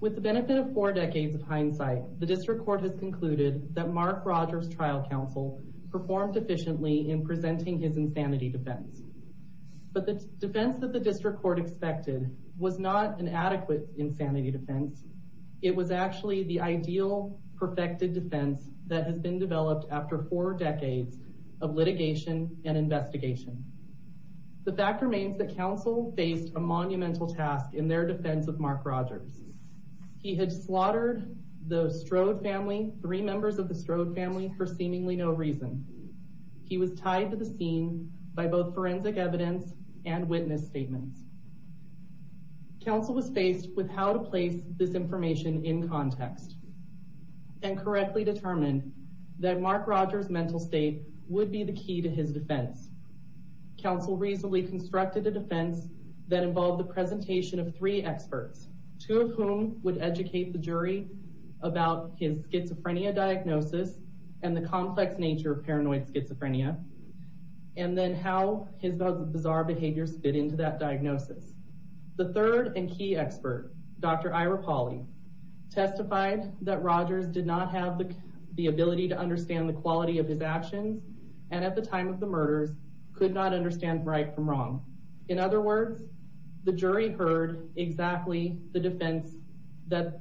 With the benefit of four decades of hindsight, the District Court has concluded that Mark Rogers' trial counsel performed sufficiently in presenting his insanity defense. But the defense that the District Court expected was not an adequate insanity defense. It was actually the ideal perfected defense that has been developed after four decades of litigation and investigation. The fact remains that counsel faced a monumental task in their defense of Mark Rogers. He had slaughtered the Strode family, three members of the Strode family, for seemingly no reason. He was tied to the scene by both forensic evidence and witness statements. Counsel was faced with how to place this information in context and correctly determined that Mark Rogers' mental state would be the key to his defense. Counsel reasonably constructed a defense that involved the presentation of three experts, two of whom would educate the jury about his schizophrenia diagnosis and the complex nature of paranoid schizophrenia, and then how his bizarre behaviors fit into that diagnosis. The third and key expert, Dr. Ira Pauly, testified that Rogers did not have the ability to understand the quality of his actions and at the time of the murder, could not understand right from wrong. In other words, the jury heard exactly the defense that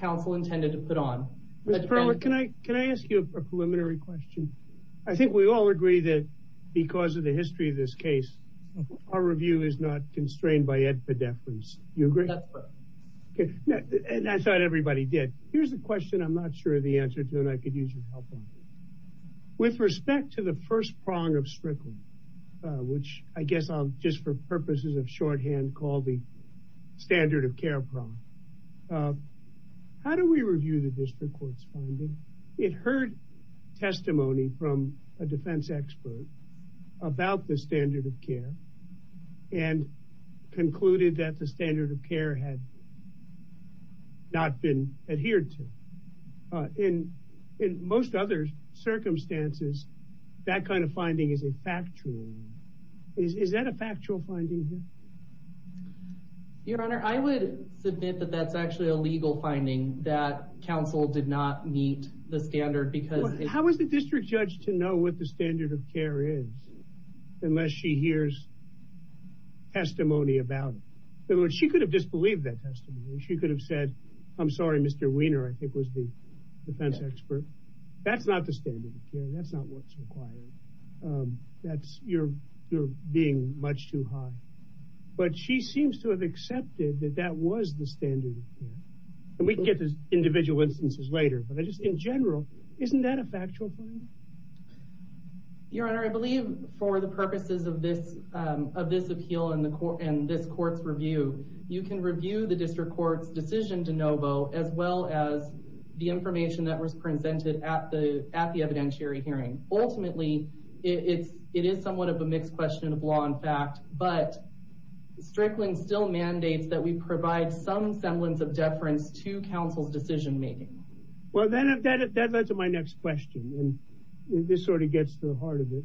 counsel intended to put on. Mr. Perlman, can I ask you a preliminary question? I think we all agree that because of the history of this case, our review is not constrained by epideptics. You agree? And I thought everybody did. Here's the question I'm not sure the answer to, and I could use your help on it. With respect to the first prong of Strickland, which I guess I'll just for purposes of shorthand call the standard of care prong, how do we review the district court's finding? It heard testimony from a defense expert about the standard of care and concluded that the standard of care had not been adhered to. In most other circumstances, that kind of finding is a factual one. Is that a factual finding here? Your Honor, I would submit that that's actually a legal finding that counsel did not meet the standard. How is the district judge to know what the standard of care is unless she hears testimony about it? She could have disbelieved that testimony. She could have said, I'm sorry, Mr. Weiner, I think was the defense expert. That's not the standard of care. That's not what's required. That's, you're being much too high. But she seems to have accepted that that was the standard of care. And we can get to individual instances later, but just in general, isn't that a factual finding? Your Honor, I believe for the purposes of this appeal and this court's review, you can review the district court's decision to no vote, as well as the information that was presented at the evidentiary hearing. Ultimately, it is somewhat of a mixed question of law and fact, but Strickland still mandates that we provide some semblance of deference to counsel's decision making. Well, then that led to my next question, and this sort of gets to the heart of it.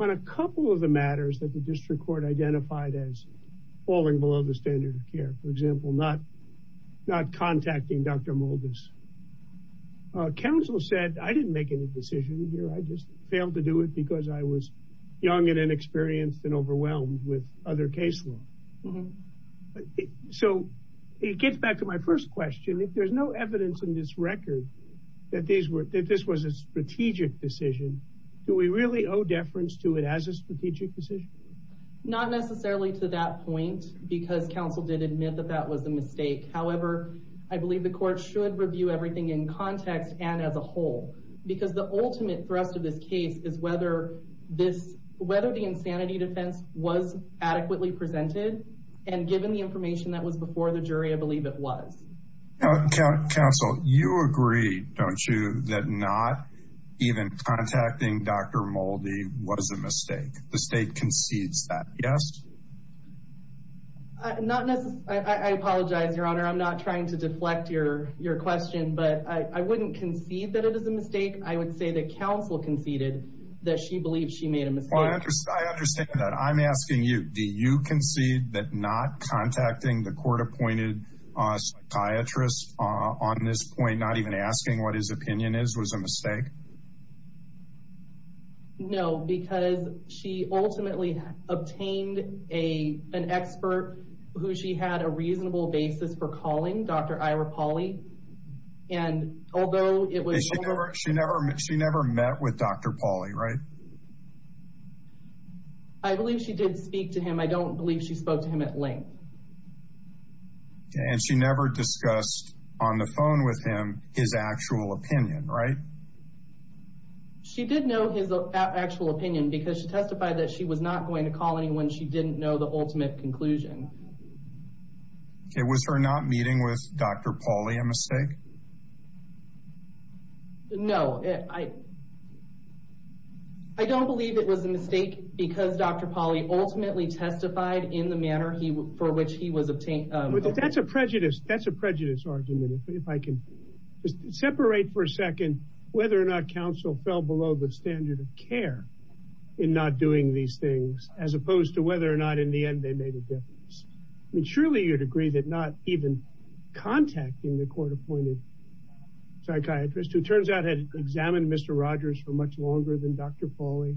On a couple of the matters that the district court identified as falling below the standard of care, for example, not contacting Dr. Moldis, counsel said, I didn't make any decision here. I just failed to do it because I was young and inexperienced and overwhelmed with other case law. So it gets back to my first question. If there's no evidence in this record that this was a strategic decision, do we really owe deference to it as a strategic decision? Not necessarily to that point, because counsel did admit that that was a mistake. However, I believe the court should review everything in context and as a whole. Because the ultimate threat to this case is whether this, whether the insanity defense was adequately presented and given the information that was before the jury, I believe it was. Counsel, you agree, don't you, that not even contacting Dr. Moldy was a mistake? The state concedes that, yes? Not necessarily. I apologize, Your Honor. I'm not trying to deflect your question, but I wouldn't concede that it is a mistake. I would say that counsel conceded that she believes she made a mistake. I understand that. I'm asking you, do you concede that not contacting the court-appointed psychiatrists on this point, not even asking what his opinion is, was a mistake? No, because she ultimately obtained an expert who she had a reasonable basis for calling, Dr. Ira Pauly, and although it was- She never met with Dr. Pauly, right? I believe she did speak to him. I don't believe she spoke to him at length. And she never discussed on the phone with him his actual opinion, right? She did know his actual opinion because she testified that she was not going to call anyone. She didn't know the ultimate conclusion. Okay, was her not meeting with Dr. Pauly a mistake? No, I don't believe it was a mistake because Dr. Pauly ultimately testified in the manner for which he was obtained- That's a prejudice. That's a prejudice argument. If I can just separate for a second whether or not counsel fell below the standard of care in not doing these things, as opposed to whether or not in the end they made a difference. I mean, surely you'd agree that not even contacting the court-appointed psychiatrist, who turns out had examined Mr. Rogers for much longer than Dr. Pauly,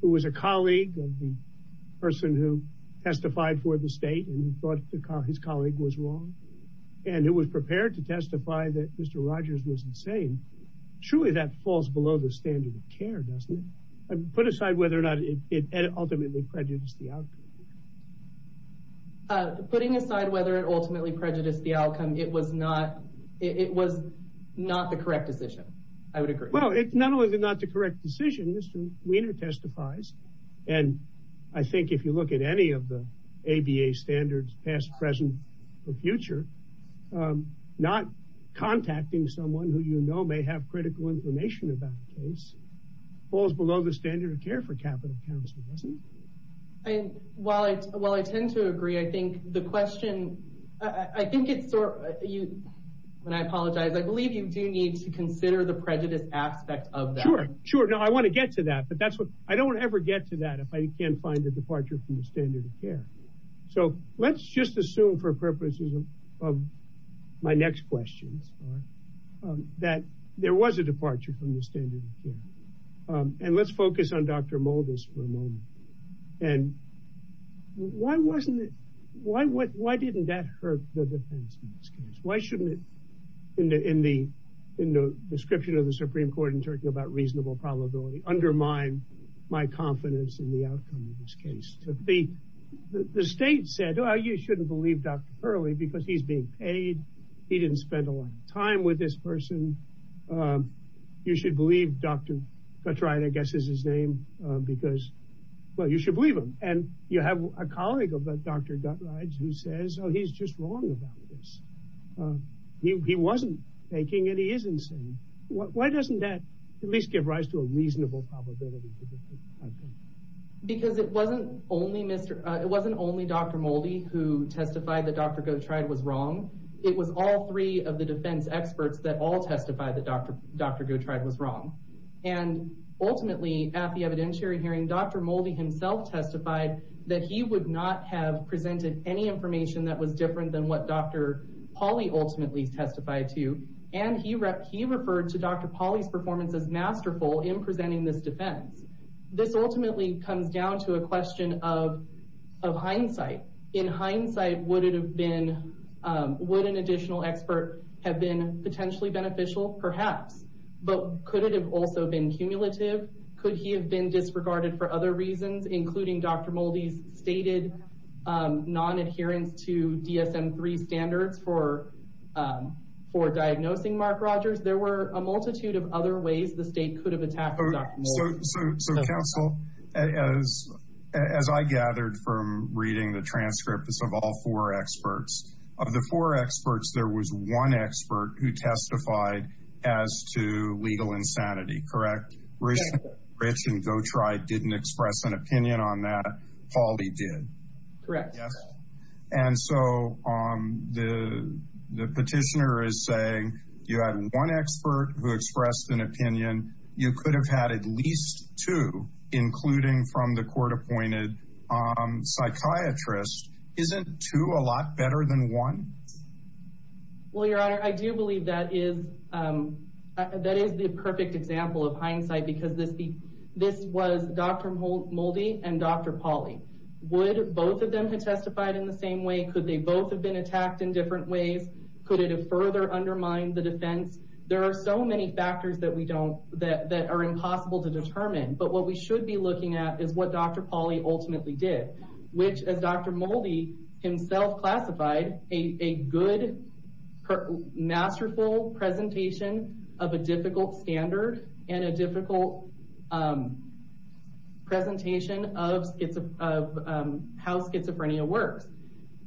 who was a colleague of the person who testified for the state and thought his colleague was wrong, and who was prepared to testify that Mr. Rogers was insane. Surely that falls below the standard of care, doesn't it? Put aside whether or not it ultimately prejudiced the outcome. Putting aside whether it ultimately prejudiced the outcome, it was not the correct decision. I would agree. Well, it's not only not the correct decision, Mr. Weiner testifies, and I think if you look at any of the ABA standards, past, present, or future, not contacting someone who you know may have critical information about the case falls below the standard of care for capital counsel, doesn't it? And while I tend to agree, I think the question, I think it's, when I apologize, I believe you do need to consider the prejudice aspect of that. Sure, now I want to get to that, but that's what, I don't ever get to that if I can't find a departure from the standard of care. So let's just assume for purposes of my next question, that there was a departure from the standard of care. And why wasn't it, why didn't that hurt the defense in this case? Why shouldn't it, in the description of the Supreme Court and talking about reasonable probability, undermine my confidence in the outcome of this case? The state said, oh, you shouldn't believe Dr. Hurley because he's being paid. He didn't spend a lot of time with this person. You should believe Dr. Guthrie, I guess is his name, because, well, you should believe him. And you have a colleague of Dr. Guthrie's who says, oh, he's just wrong about this. He wasn't faking it, he isn't saying. Why doesn't that at least give rise to a reasonable probability? Because it wasn't only Mr., it wasn't only Dr. Moldy who testified that Dr. Guthrie was wrong. It was all three of the defense experts that all testified that Dr. Guthrie was wrong. And ultimately at the evidentiary hearing, Dr. Moldy himself testified that he would not have presented any information that was different than what Dr. Pauley ultimately testified to. And he referred to Dr. Pauley's performance as masterful in presenting this defense. This ultimately comes down to a question of hindsight. In hindsight, would an additional expert have been potentially beneficial? Perhaps. But could it have also been cumulative? Could he have been disregarded for other reasons, including Dr. Moldy's stated non-adherence to DSM-3 standards for diagnosing Mark Rogers? There were a multitude of other ways the state could have attacked Dr. Moldy. So counsel, as I gathered from reading the transcript, it's of all four experts. Of the four experts, there was one expert who testified as to legal insanity, correct? Rich and Guthrie didn't express an opinion on that. Pauley did. Correct. Yes. And so the petitioner is saying you have one expert who expressed an opinion. You could have had at least two, including from the court-appointed psychiatrist. Isn't two a lot better than one? Well, Your Honor, I do believe that is the perfect example of hindsight because this was Dr. Moldy and Dr. Pauley. Would both of them have testified in the same way? Could they both have been attacked in different ways? Could it have further undermined the defense? There are so many factors that we don't, that are impossible to determine. But what we should be looking at is what Dr. Pauley ultimately did, which as Dr. Moldy himself classified, a good, masterful presentation of a difficult standard and a difficult presentation of how schizophrenia works.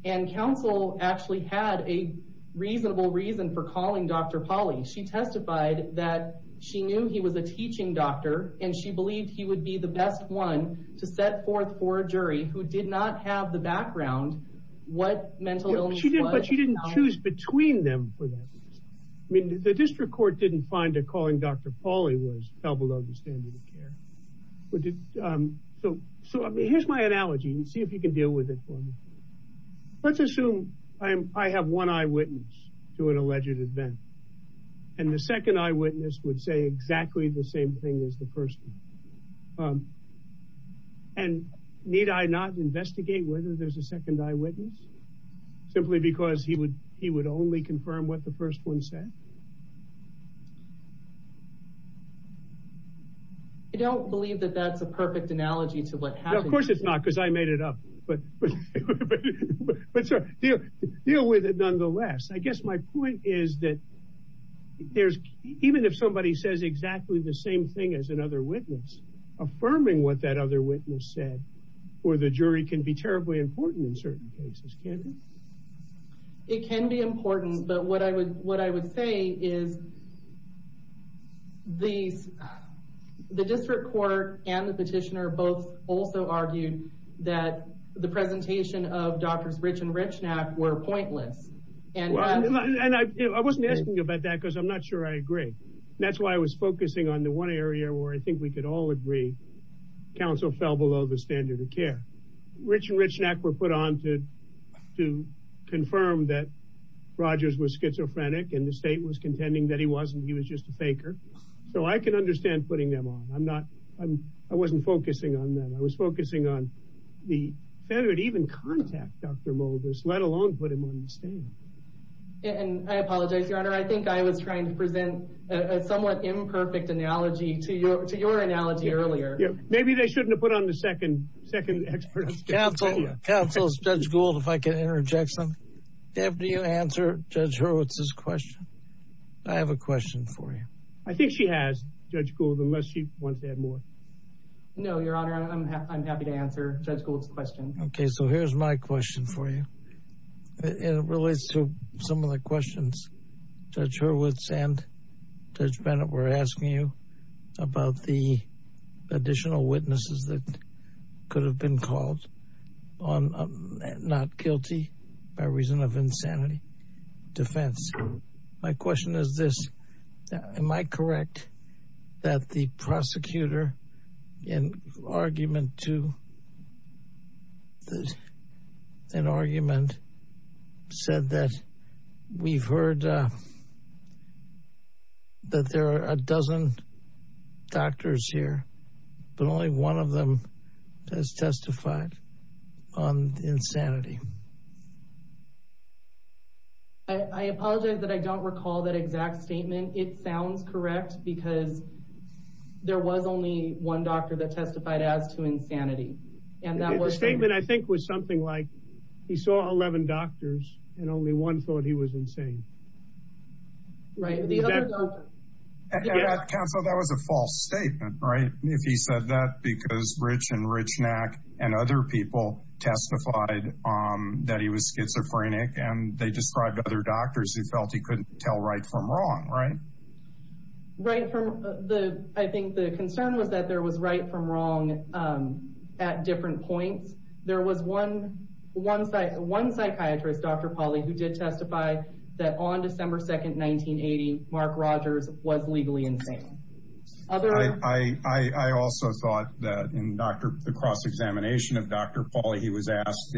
And counsel actually had a reasonable reason for calling Dr. Pauley. She testified that she knew he was a teaching doctor, and she believed he would be the best one to set forth for a jury who did not have the background what mental illness was. But she didn't choose between them for that. I mean, district court didn't find that calling Dr. Pauley was well below the standard of care. So here's my analogy, and see if you can deal with it for me. Let's assume I have one eyewitness to an alleged event, and the second eyewitness would say exactly the same thing as the first. And need I not investigate whether there's a second eyewitness, simply because he would only confirm what the first one said? I don't believe that that's the perfect analogy to what happened. Of course it's not, because I made it up. But deal with it nonetheless. I guess my point is that even if somebody says exactly the same thing as another witness, affirming what that other witness said for the jury can be terribly important in certain cases. It can be important, but what I would say is the district court and the petitioner both also argued that the presentation of Drs. Rich and Richnack were pointless. And I wasn't asking you about that, because I'm not sure I agree. That's why I was focusing on the one area where I think we could all agree counsel fell below the standard of care. Rich and Richnack were put on to confirm that Rogers was schizophrenic, and the state was contending that he wasn't. He was just a faker. So I can understand putting them on. I wasn't focusing on that. I was focusing on the failure to even contact Dr. Moldis, let alone put him on the stand. And I apologize, Your Honor. I think I was trying to present a somewhat imperfect analogy to your analogy earlier. Maybe they shouldn't have put on the second expert. Counsel, Judge Gould, if I can interject something. Do you answer Judge Hurwitz's question? I have a question for you. I think she has, Judge Gould, unless she wants to add more. No, Your Honor. I'm happy to answer Judge Gould's question. Okay. So here's my question for you. It relates to some of the questions Judge Hurwitz and Judge Bennett were asking you about the additional witnesses that could have been called on not guilty by reason of insanity defense. My question is this. Am I correct that the prosecutor in argument to this, in argument said that we've heard that there are a dozen doctors here, but only one of them has testified on insanity? I apologize that I don't recall that exact statement. It sounds correct because there was only one doctor that testified as to insanity. And that statement I think was something like he saw 11 doctors and only one thought he was insane. Right. That was a false statement, right? If he said that because Rich and Richnack and other people testified that he was schizophrenic and they described other doctors who felt he couldn't tell right from wrong, right? Right. I think the concern was that there was right from wrong at different points. There was one psychiatrist, Dr. Pauly, who did testify that on December 2nd, 1980, Mark Rogers was legally insane. I also thought that in the cross-examination of Dr. Pauly, he was asked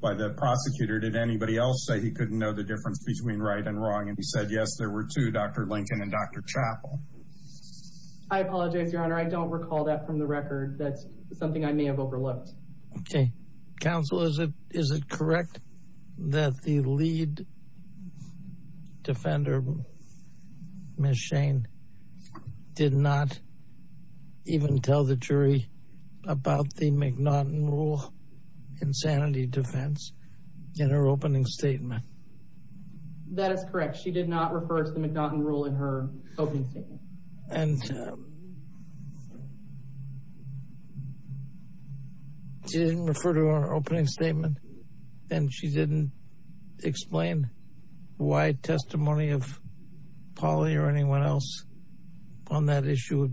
by the prosecutor, did anybody else say he couldn't know the difference between right and wrong? And he said, yes, there were two, Dr. Lincoln and Dr. Chappell. I apologize, your honor. I don't recall that from the record. That's something I may have overlooked. Okay. Counsel, is it, is it correct that the lead defender, Ms. Shane, did not even tell the jury about the McNaughton rule insanity defense in her opening statement? That is correct. She did not refer to the McNaughton rule in her opening statement. And she didn't refer to her opening statement and she didn't explain why testimony of Dr. Pauly was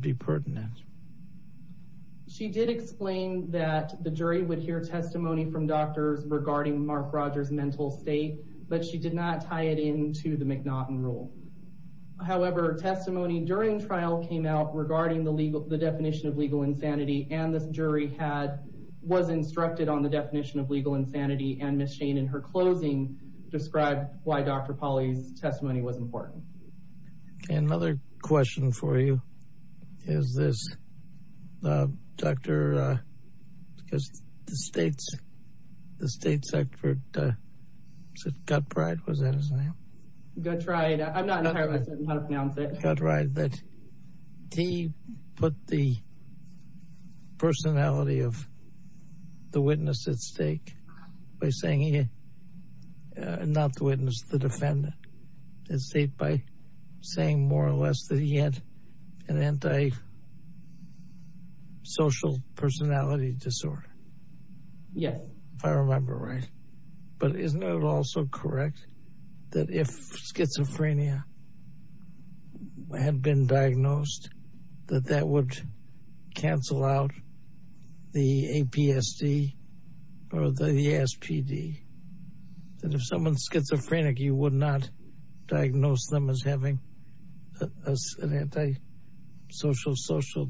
important. She did explain that the jury would hear testimony from doctors regarding Mark Rogers' mental state, but she did not tie it into the McNaughton rule. However, testimony during trial came out regarding the legal, the definition of legal insanity and the jury had, was instructed on the definition of legal insanity and Ms. Shane, in her closing, described why Dr. Pauly's testimony was important. Okay. Another question for you is this, uh, Dr., uh, the state's, the state's expert, uh, was that his name? That's right. I'm not, I'm not sure about that. That's right. But he put the personality of the witness at stake by saying he, uh, not the witness, the defendant, at stake by saying more or less that he had an anti-social personality disorder. Yeah, if I remember right. But isn't it also correct that if schizophrenia had been diagnosed, that that would cancel out the APSD or the ESPD? And if someone's schizophrenic, he would not diagnose them as having an anti-social, social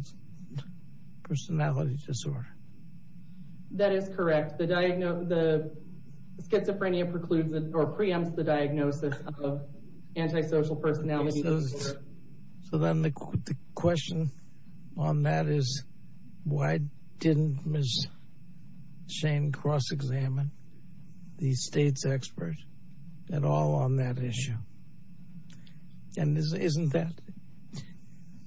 personality disorder. That is correct. The diagnosis, the schizophrenia precludes or preempts the diagnosis of anti-social personality disorder. So then the question on that is why didn't Ms. Shane cross-examine the state's experts at all on that issue? And isn't that,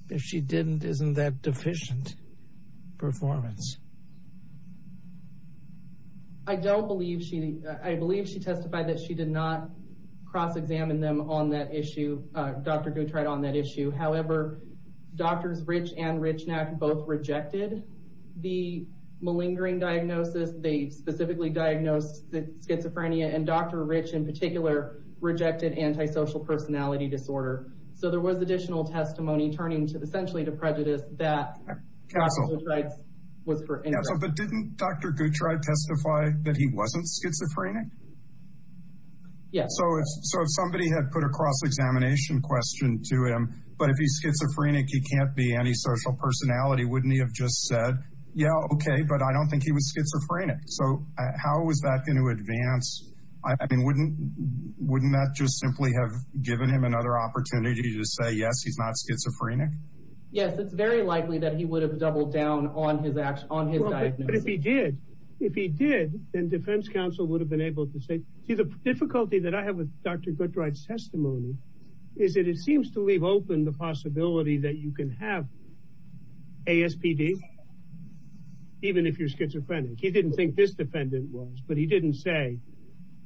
if she didn't, isn't that deficient performance? I don't believe she, I believe she testified that she did not cross-examine them on that issue, uh, Dr. Guntright on that issue. However, Drs. Rich and Richnack both rejected the malingering diagnosis. They specifically diagnosed the schizophrenia and Dr. Rich, in particular, rejected anti-social personality disorder. So there was additional testimony turning to essentially to prejudice that Dr. Guntright was for. But didn't Dr. Guntright testify that he wasn't schizophrenic? Yes. So if somebody had put a cross-examination question to him, but if he's schizophrenic, he can't be anti-social personality. Wouldn't he have just said, yeah, okay, but I don't think he was schizophrenic. So how was that going to advance? I mean, wouldn't, wouldn't that just simply have given him another opportunity to say, yes, he's not schizophrenic? Yes. It's very likely that he would have doubled down on his ax, on his diagnosis. But if he did, if he did, then defense counsel would have been able to say, the difficulty that I have with Dr. Guntright's testimony is that it seems to leave open the possibility that you can have ASPD, even if you're schizophrenic. He didn't think this defendant was, but he didn't say,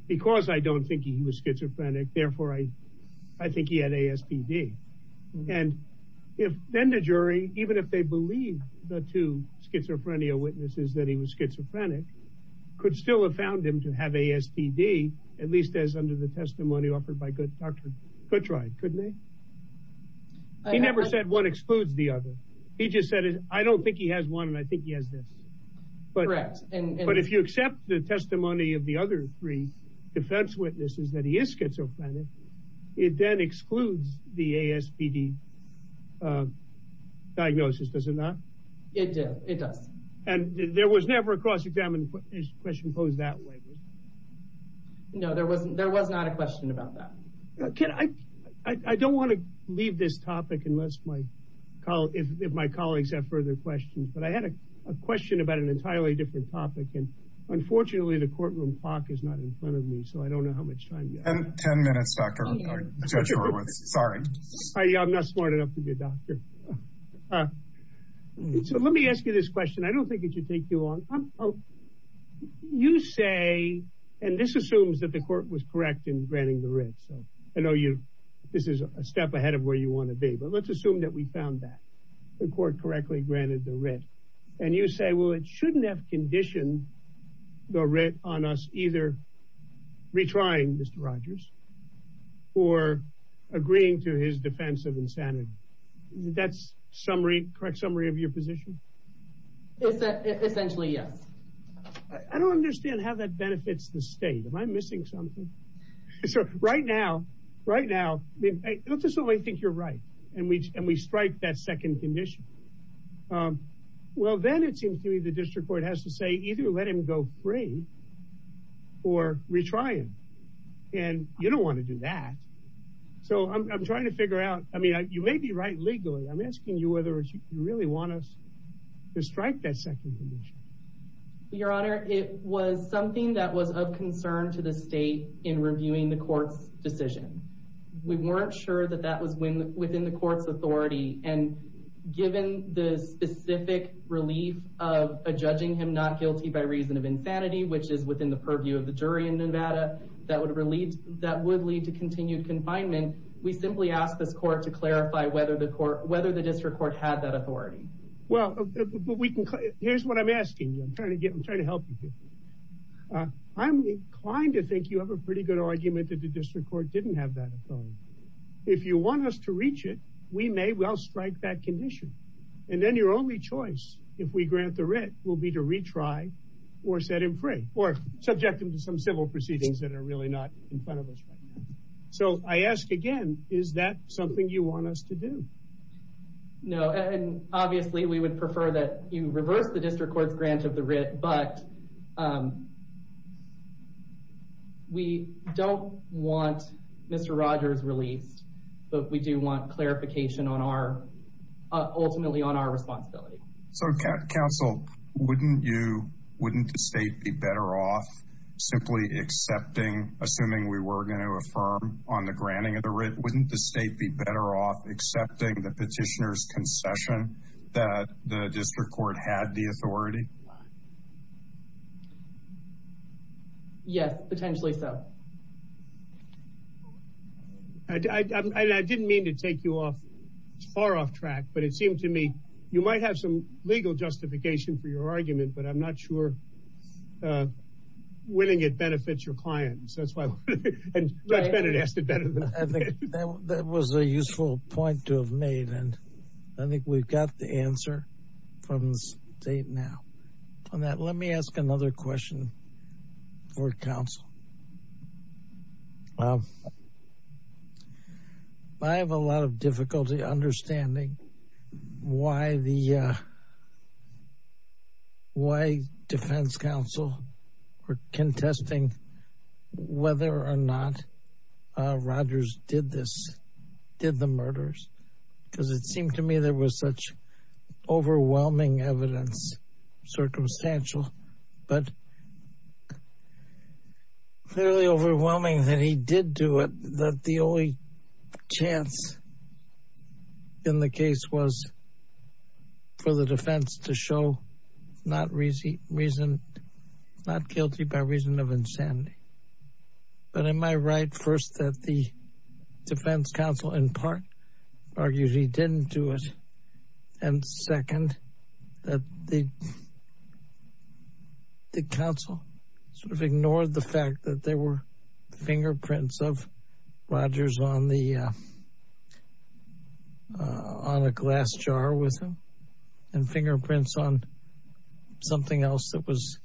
because I don't think he was schizophrenic, therefore I think he had ASPD. And if then the jury, even if they believe the two schizophrenia witnesses that he was at least as under the testimony offered by Dr. Guntright, couldn't they? He never said one excludes the other. He just said, I don't think he has one, and I think he has this. But if you accept the testimony of the other three defense witnesses that he is schizophrenic, it then excludes the ASPD diagnosis, does it not? It does. And there was never a cross-examination question posed that way. No, there was not a question about that. I don't want to leave this topic unless my colleagues, if my colleagues have further questions, but I had a question about an entirely different topic. And unfortunately, the courtroom talk is not in front of me, so I don't know how much time you have. 10 minutes, Dr. Guntright. Sorry. I'm not smart enough to be a doctor. So let me ask you this question. I don't think it should take too long. You say, and this assumes that the court was correct in granting the writ, so I know you, this is a step ahead of where you want to be, but let's assume that we found that the court correctly granted the writ. And you say, well, it shouldn't have conditioned the writ on us either retrying Mr. Rogers or agreeing to his defense of insanity. That's correct summary of your position? Essentially, yes. I don't understand how that benefits the state. Am I missing something? Right now, let's assume I think you're right and we strike that second condition. Well, then it seems to me the district court has to say, either let him go free or retry him. And you don't want to do that. So I'm trying to figure out, I mean, you may be right legally. I'm asking you whether you really want us to strike that second. Your honor, it was something that was of concern to the state in reviewing the court's decision. We weren't sure that that was within the court's authority. And given the specific relief of judging him not guilty by reason of insanity, which is within the purview of the jury in Nevada, that would lead to continued confinement. We simply asked the court to clarify whether the district court had that authority. Well, here's what I'm asking. I'm trying to help you here. I'm inclined to think you have a pretty good argument that the district court didn't have that authority. If you want us to reach it, we may well strike that condition. And then your only choice, if we grant the writ, will be to retry or set him free or subject him some civil proceedings that are really not in front of us right now. So I ask again, is that something you want us to do? No, and obviously we would prefer that you reverse the district court's grant of the writ, but we don't want Mr. Rogers released. But we do want clarification on our, ultimately on our responsibility. So counsel, wouldn't you, wouldn't the state be better off simply accepting, assuming we were going to affirm on the granting of the writ, wouldn't the state be better off accepting the petitioner's concession that the district court had the authority? Yes, potentially so. I didn't mean to take you off, far off track, but it seemed to me, you might have some legal justification for your argument, but I'm not sure winning it benefits your clients. That's why I said it has to benefit. I think that was a useful point to have made. And I think we've got the answer from the state now. On that, let me ask another question for counsel. Well, I have a lot of difficulty understanding why the, why defense counsel were contesting whether or not Rogers did this, did the murders. Because it seemed to me there was such clearly overwhelming that he did do it, that the only chance in the case was for the defense to show not guilty by reason of insanity. But am I right first that the defense counsel in part argued he didn't do it. And second, that the sort of ignored the fact that there were fingerprints of Rogers on the, on the glass jar with him and fingerprints on something else that was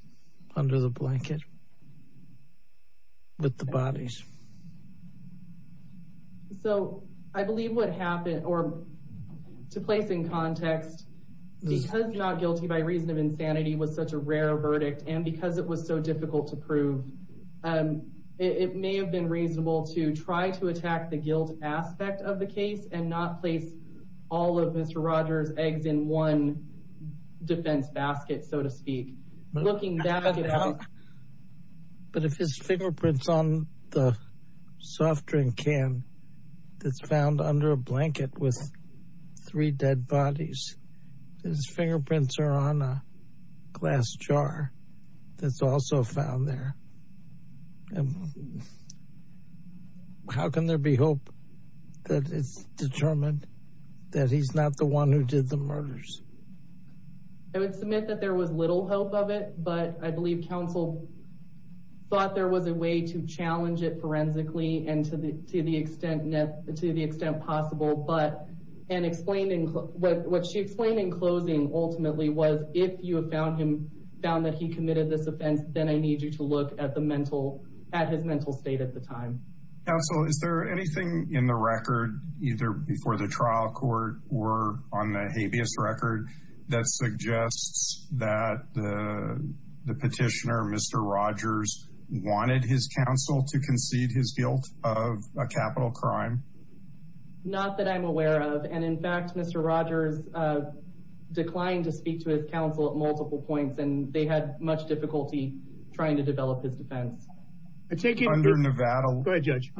under the blanket with the bodies. So I believe what happened or to place in context, because not guilty by reason of insanity was such a rare verdict. And because it was so difficult to prove, it may have been reasonable to try to attack the guilt aspect of the case and not say all of Mr. Rogers eggs in one defense basket, so to speak. But if his fingerprints on the can that's found under a blanket with three dead bodies, his fingerprints are on a glass jar, that's also found there. And how can there be hope that it's determined that he's not the one who did the murders? I would submit that there was little hope of it, but I believe counsel thought there was a way to challenge it forensically and to the extent possible. But what she explained in closing ultimately was if you have found him, found that he committed this offense, then I need you to look at his mental state at the time. Counsel, is there anything in the record either before the trial court or on the habeas record that suggests that the petitioner, Mr. Rogers, wanted his counsel to concede his guilt of a capital crime? Not that I'm aware of. And in fact, Mr. Rogers declined to speak to his counsel at multiple points, and they had much difficulty trying to develop his defense. I'm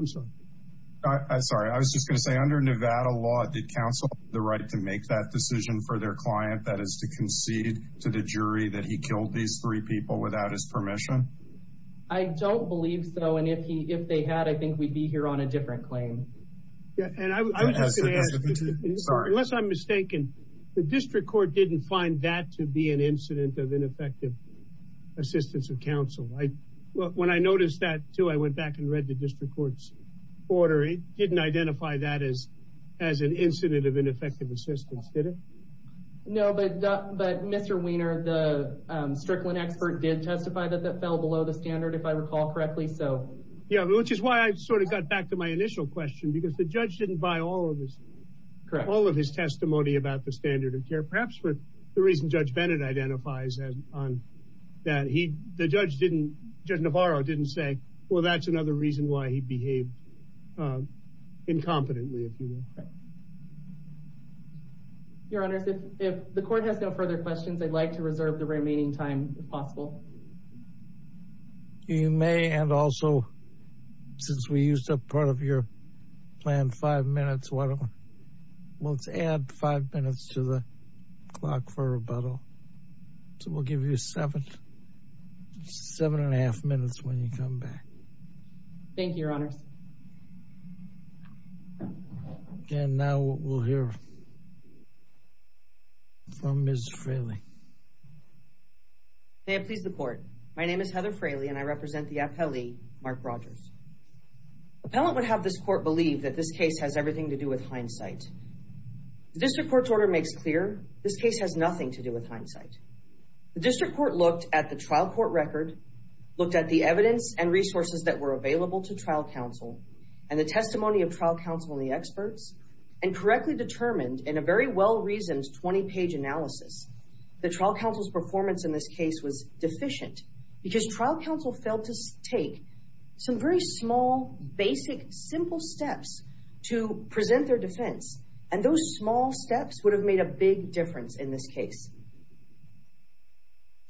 sorry, I'm sorry. I was just going to say under Nevada law, did counsel have the right to make that decision for their client, that is to concede to the jury that he killed these three people without his permission? I don't believe so. And if he, if they had, I think we'd be here on a different claim. And I was just going to ask, unless I'm mistaken, the district court didn't find that to be an incident of ineffective assistance of counsel. When I noticed that too, I went back and read the district court's order. It didn't identify that as an incident of ineffective assistance, did it? No, but Mr. Weiner, the Strickland expert did testify that that fell below the standard, if I recall correctly. Yeah, which is why I sort of got back to my initial question, because the judge didn't buy all of this, all of his testimony about the standard of care, perhaps for the reason Judge Bennett identifies on that. He, the judge didn't, Judge Navarro didn't say, well, that's another reason why he behaved incompetently, if you will. Your Honor, if the court has no further questions, I'd like to reserve the remaining time if possible. You may, and also, since we used up part of your time, five minutes, let's add five minutes to the clock for rebuttal. So we'll give you seven and a half minutes when you come back. Thank you, Your Honor. And now we'll hear from Ms. Fraley. May I please report? My name is Heather Fraley, and I represent the appellee, Mark Rogers. Appellant would have this court believe that this case has everything to do with hindsight. The district court's order makes clear this case has nothing to do with hindsight. The district court looked at the trial court record, looked at the evidence and resources that were available to trial counsel, and the testimony of trial counsel and the experts, and correctly determined, in a very well-reasoned 20-page analysis, the trial counsel's performance in this case was deficient because trial counsel failed to take some very small, basic, simple steps to present their defense. And those small steps would have made a big difference in this case.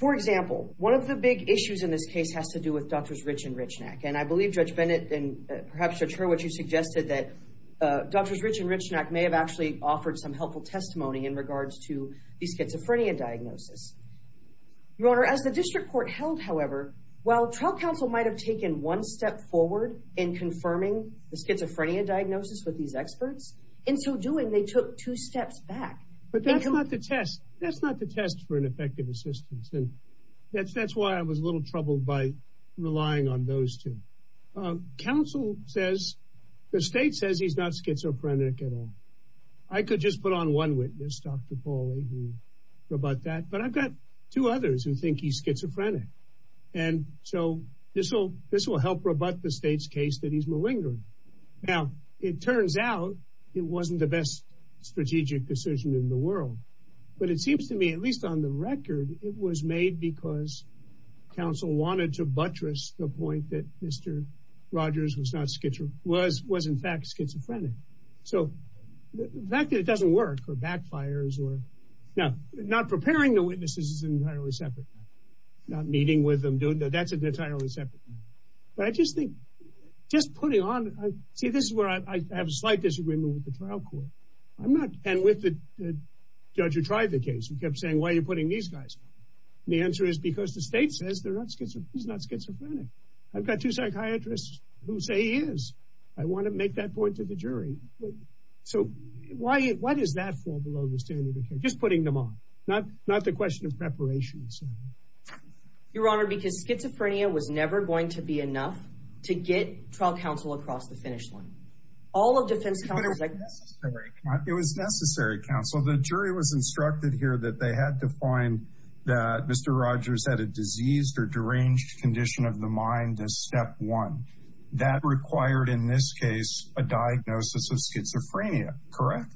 For example, one of the big issues in this case has to do with Drs. Rich and Richnack, and I believe Judge Bennett and perhaps Judge Hurwitz, you suggested that Drs. Rich and Richnack may have actually offered some helpful testimony in regards to the schizophrenia diagnosis. Your Honor, as the district court held, however, while trial counsel might have taken one step forward in confirming the schizophrenia diagnosis with these experts, in so doing, they took two steps back. But that's not the test. That's not the test for ineffective assistance, and that's why I was a little troubled by relying on those two. Counsel says, the state says he's not schizophrenic at all. I could just put on one witness, Dr. Pauley, rebut that, but I've got two others who think he's schizophrenic. And so this will help rebut the state's case that he's malignant. Now, it turns out it wasn't the best strategic decision in the world, but it seems to me, at least on the record, it was made because counsel wanted to buttress the point that Mr. Rogers was in fact schizophrenic. So the fact that it doesn't work, or backfires, or... Now, not preparing the witnesses is entirely separate. Not meeting with them, doing that, that's entirely separate. But I just think, just putting on... See, this is where I have a slight disagreement with the trial court. I'm not... And with the judge who tried the case and kept saying, why are you putting these guys? The answer is because the state says he's not schizophrenic. I've got two psychiatrists who say he is. I want to make that point to the jury. So why does that fall below the standard? Just putting them on, not the question of preparation. Your Honor, because schizophrenia was never going to be enough to get trial counsel across the finish line. All of the... It was necessary, counsel. The jury was instructed here that they had to find that Mr. Rogers had a diseased or deranged condition of the mind as step one. That required, in this case, a diagnosis of schizophrenia, correct?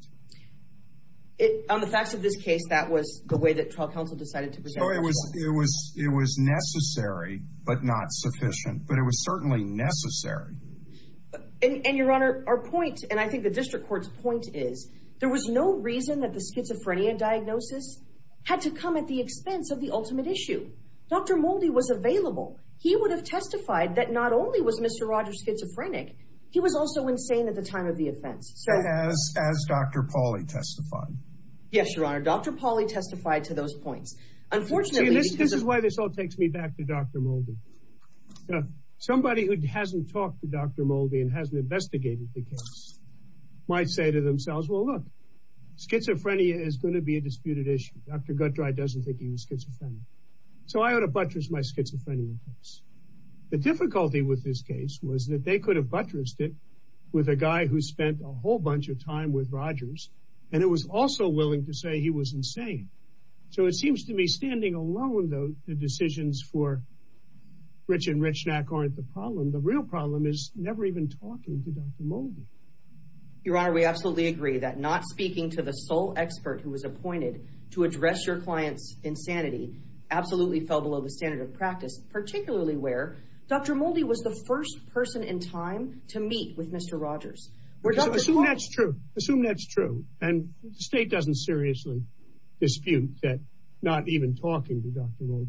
On the fact of this case, that was the way that trial counsel decided to present... So it was necessary, but not sufficient. But it was certainly necessary. And Your Honor, our point, and I think the district court's point is, there was no reason that the schizophrenia diagnosis had to come at the expense of the ultimate issue. Dr. Moldy was available. He would have testified that not only was Mr. Rogers schizophrenic, he was also insane at the time of the offense. As Dr. Pauly testified. Yes, Your Honor. Dr. Pauly testified to those points. Unfortunately... This is why this all takes me back to Dr. Moldy. Somebody who hasn't talked to Dr. Moldy and hasn't schizophrenia is going to be a disputed issue. Dr. Guttreich doesn't think he was schizophrenic. So I ought to buttress my schizophrenia case. The difficulty with this case was that they could have buttressed it with a guy who spent a whole bunch of time with Rogers. And it was also willing to say he was insane. So it seems to me standing alone, though, the decisions for Rich and Richnack aren't the problem. The real problem is never even talking to Dr. Moldy. Your Honor, we absolutely agree that not speaking to the sole expert who was appointed to address your client's insanity absolutely fell below the standard of practice, particularly where Dr. Moldy was the first person in time to meet with Mr. Rogers. Assume that's true. Assume that's true. And the state doesn't seriously dispute that not even talking to Dr. Moldy...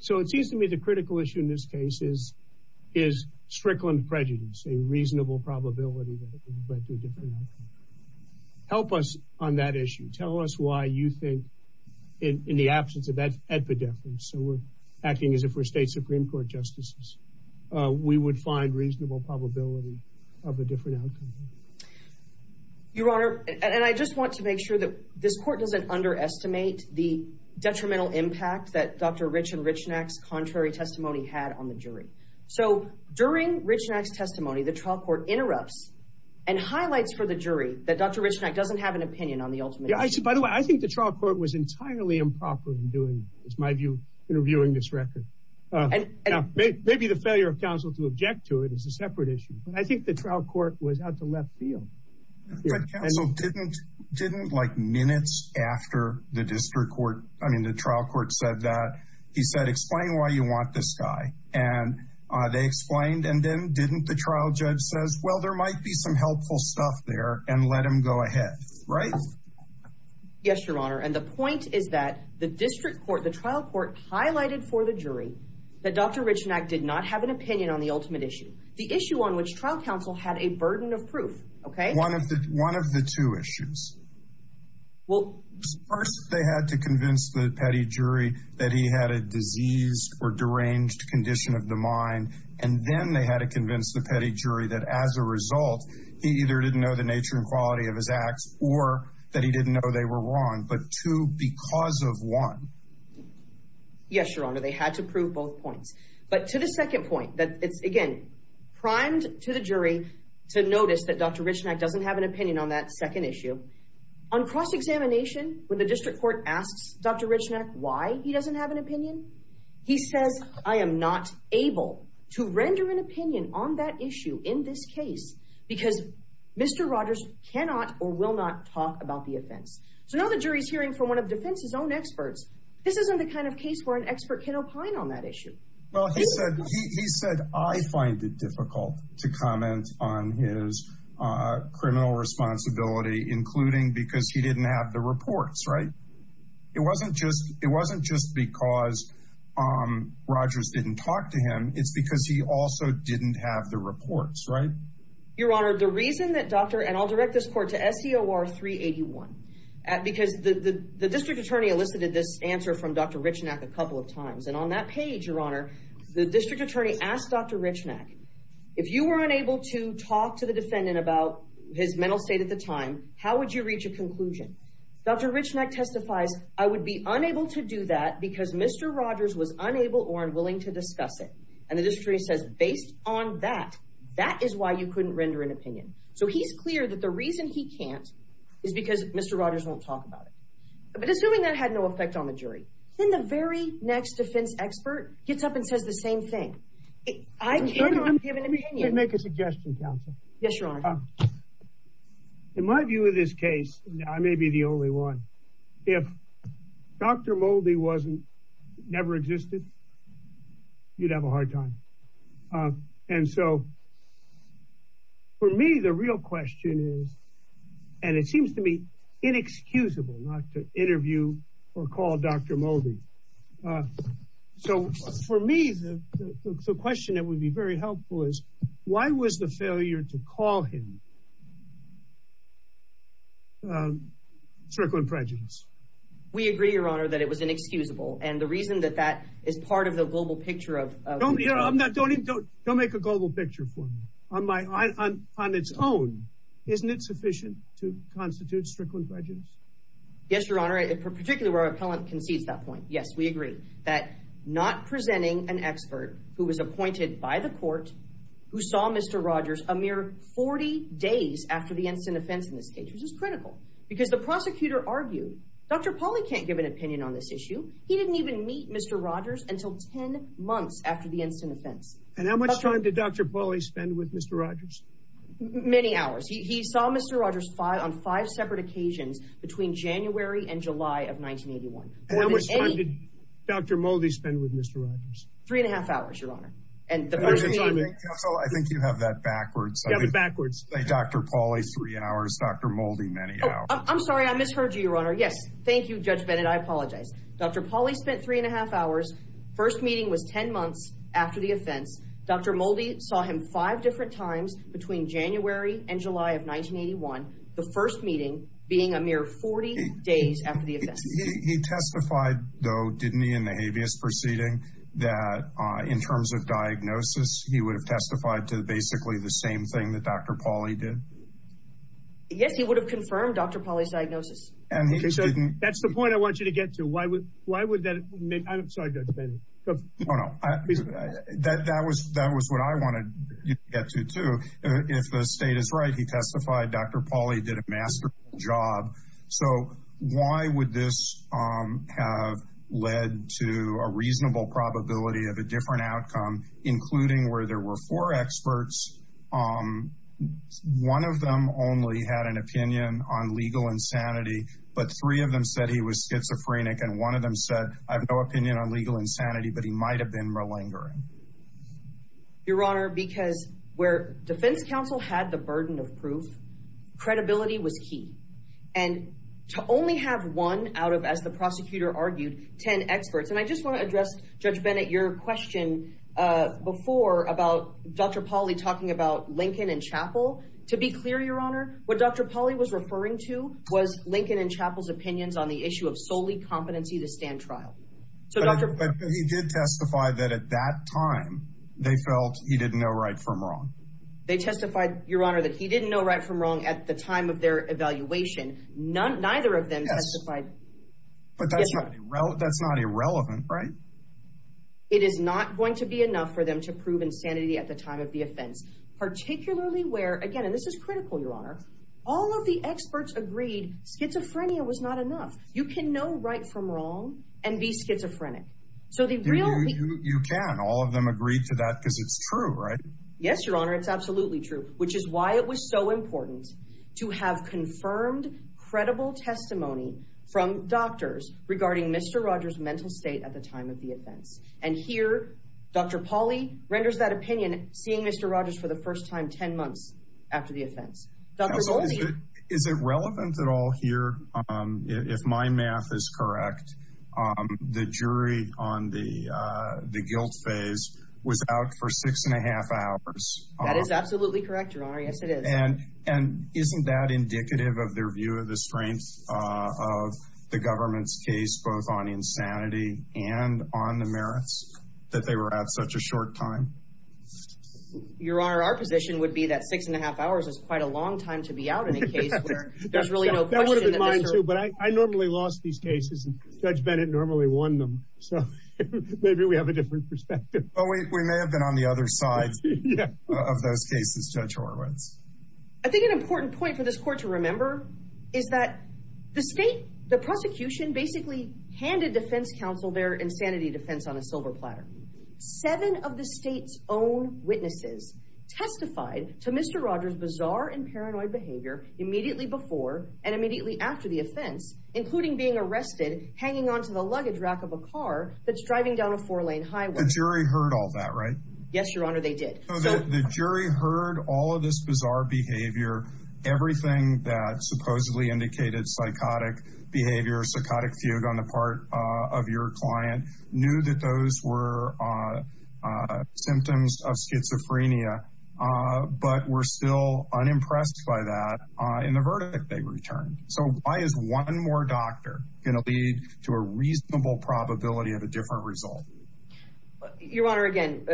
So it seems to me the critical issue in this case is Strickland prejudice, a reasonable probability. Help us on that issue. Tell us why you think, in the absence of that epidemic, so we're acting as if we're state Supreme Court justices, we would find reasonable probability of a different outcome. Your Honor, and I just want to make sure that this court doesn't underestimate the detrimental impact that Dr. Rich and Richnack's contrary testimony had on the jury. So during Richnack's testimony, the trial court interrupts and highlights for the jury that Dr. Richnack doesn't have an opinion on the ultimate... Yeah, by the way, I think the trial court was entirely improper in doing this, in my view, in reviewing this record. Maybe the failure of counsel to object to it is a separate issue, but I think the trial court had the left field. But counsel didn't, like, minutes after the district court said that, he said, explain why you want this guy. And they explained, and then didn't the trial judge says, well, there might be some helpful stuff there, and let him go ahead, right? Yes, Your Honor, and the point is that the district court, the trial court highlighted for the jury that Dr. Richnack did not have an opinion on the ultimate issue, the issue on which trial counsel had a burden of proof, okay? One of the two issues. Well, first they had to convince the jury that he had a diseased or deranged condition of the mind, and then they had to convince the petty jury that as a result, he either didn't know the nature and quality of his acts, or that he didn't know they were wrong. But two, because of one. Yes, Your Honor, they had to prove both points. But to the second point, that, again, primed to the jury to notice that Dr. Richnack doesn't have an opinion on that second issue. On cross-examination, when the district court asked Dr. Richnack why he doesn't have an opinion, he said, I am not able to render an opinion on that issue in this case, because Mr. Rogers cannot or will not talk about the offense. So now the jury's hearing from one of defense's own experts. This isn't the kind of case where an expert can opine on that issue. Well, he said, he said, I find it difficult to comment on his criminal responsibility, including because he didn't have the reports, right? It wasn't just, it wasn't just because Rogers didn't talk to him. It's because he also didn't have the reports, right? Your Honor, the reason that Dr., and I'll direct this court to SCOR 381, because the district attorney elicited this answer from Dr. Richnack a couple of times, and on that page, Your Honor, the district attorney asked Dr. Richnack, if you weren't able to talk to the defendant about his mental state at the time, how would you reach a conclusion? Dr. Richnack testified, I would be unable to do that because Mr. Rogers was unable or unwilling to discuss it. And the district attorney says, based on that, that is why you couldn't render an opinion. So he is clear that the reason he can't is because Mr. Rogers won't talk about it. But assuming that had no effect on the jury, then the very next defense expert gets up and says the same thing. I cannot give an opinion. Let me make a suggestion, counsel. Yes, Your Honor. In my view of this case, and I may be the only one, if Dr. Moldy wasn't, never existed, you'd have a hard time. And so for me, the real question is, and it seems to be inexcusable not to interview or call Dr. Moldy. So for me, the question that would be very helpful is, why was the failure to call him circling prejudice? We agree, Your Honor, that it was inexcusable. And the reason that that is part of the global picture of- Don't make a global picture for me. On its own, isn't it sufficient to constitute circling prejudice? Yes, Your Honor, particularly where our appellant concedes that point. Yes, we agree. That not presenting an expert who was appointed by the court, who saw Mr. Rogers a mere 40 days after the instant offense in this case, which is critical. Because the prosecutor argued, Dr. Pauly can't give an opinion on this issue. He didn't even meet Mr. Rogers until 10 months after the instant offense. And how much time did Dr. Pauly spend with Mr. Rogers? Many hours. He saw Mr. Rogers on five separate occasions between January and July of 1981. And how much time did Dr. Moldy spend with Mr. Rogers? Three and a half hours, Your Honor. And the- I think you have that backwards. Yeah, backwards. Dr. Pauly, three hours. Dr. Moldy, many hours. I'm sorry. I misheard you, Your Honor. Yes. Thank you, Judge Bennett. I apologize. Dr. Pauly spent three and a half hours. First meeting was 10 months after the offense. Dr. Moldy saw him five different times between January and July of 1981. The first meeting being a mere 40 days after the event. He testified, though, didn't he, in the habeas proceeding, that in terms of diagnosis, he would have testified to basically the same thing that Dr. Pauly did? Yes, he would have confirmed Dr. Pauly's diagnosis. And he didn't- That's the point I want you to get to. Why would that make- I'm sorry, Judge Bennett. No, no. That was what I wanted you to get to, too. If the state is right, he testified Dr. Pauly. So why would this have led to a reasonable probability of a different outcome, including where there were four experts? One of them only had an opinion on legal insanity, but three of them said he was schizophrenic. And one of them said, I have no opinion on legal insanity, but he might have been malingering. Your Honor, because where defense counsel had the burden of proof, credibility was key. And to only have one out of, as the prosecutor argued, 10 experts. And I just want to address, Judge Bennett, your question before about Dr. Pauly talking about Lincoln and Chappell. To be clear, Your Honor, what Dr. Pauly was referring to was Lincoln and Chappell's opinions on the issue of solely competency to stand trial. But he did testify that at that time, they felt he didn't know right from wrong. They testified, Your Honor, that he didn't know right from wrong at the time of their evaluation. Neither of them testified- But that's not irrelevant, right? It is not going to be enough for them to prove insanity at the time of the offense, particularly where, again, and this is critical, Your Honor, all of the experts agreed schizophrenia was not enough. You can know right from wrong and be schizophrenic. So they really- You can. All of them agree to that because it's true, right? Yes, Your Honor. It's absolutely true, which is why it was so important to have confirmed, credible testimony from doctors regarding Mr. Rogers' mental state at the time of the offense. And here, Dr. Pauly renders that opinion, seeing Mr. Rogers for the first time 10 months after the offense. Is it relevant at all here, if my math is correct, the jury on the guilt phase was out for six and a half hours? That is absolutely correct, Your Honor. Yes, it is. And isn't that indicative of their view of the strength of the government's case, both on insanity and on the merits that they were out such a short time? Your Honor, our position would be that six and a half hours is quite a long time to be out in a case where there's really no- That would have been fine too, but I normally lost these cases and Judge Bennett normally won them. So maybe we have a different perspective. Oh, we may have been on the other side of those cases, Judge Horowitz. I think an important point for this court to remember is that the state, the prosecution basically handed defense counsel their insanity defense on a silver platter. Seven of the state's own witnesses testified to Mr. Rogers' bizarre and paranoid behavior immediately before and immediately after the offense, including being arrested, hanging onto the luggage rack of a car that's driving down a four-lane highway. The jury heard all that, right? Yes, Your Honor, they did. So the jury heard all of this bizarre behavior, everything that supposedly indicated psychotic behavior, psychotic feud on the part of your client, knew that those were symptoms of schizophrenia, but were still unimpressed by that in the verdict they returned. So why is one more doctor going to lead to a reasonable probability of a different result? Your Honor, again,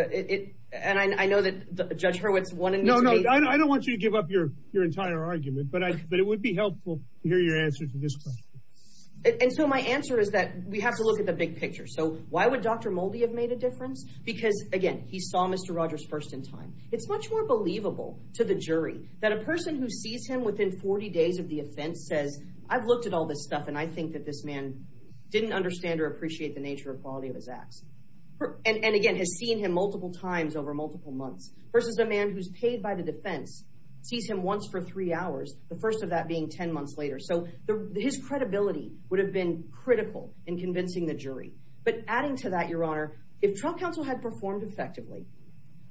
and I know that Judge Horowitz wanted- No, no, I don't want you to give up your entire argument, but it would be helpful to hear your answer to this question. And so my answer is that we have to look at the big picture. So why would Dr. Moldy have made a difference? Because again, he saw Mr. Rogers first in time. It's much more believable to the jury that a person who sees him within 40 days of the offense says, I've looked at all this stuff and I think that this man didn't understand or appreciate the nature or quality of his act. And again, has seen him multiple times over multiple months. Versus a man who's paid by the defense, sees him once for three hours, the first of that being 10 months later. So his credibility would have been critical in convincing the jury. But adding to that, Your Honor, if Trump counsel had performed effectively,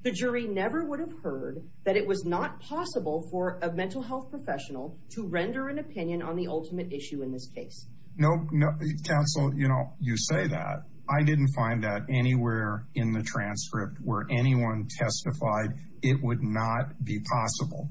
the jury never would have heard that it was not possible for a mental health professional to render an opinion on the ultimate issue in this case. No, counsel, you say that. I didn't find that anywhere in the transcript where anyone testified it would not be possible.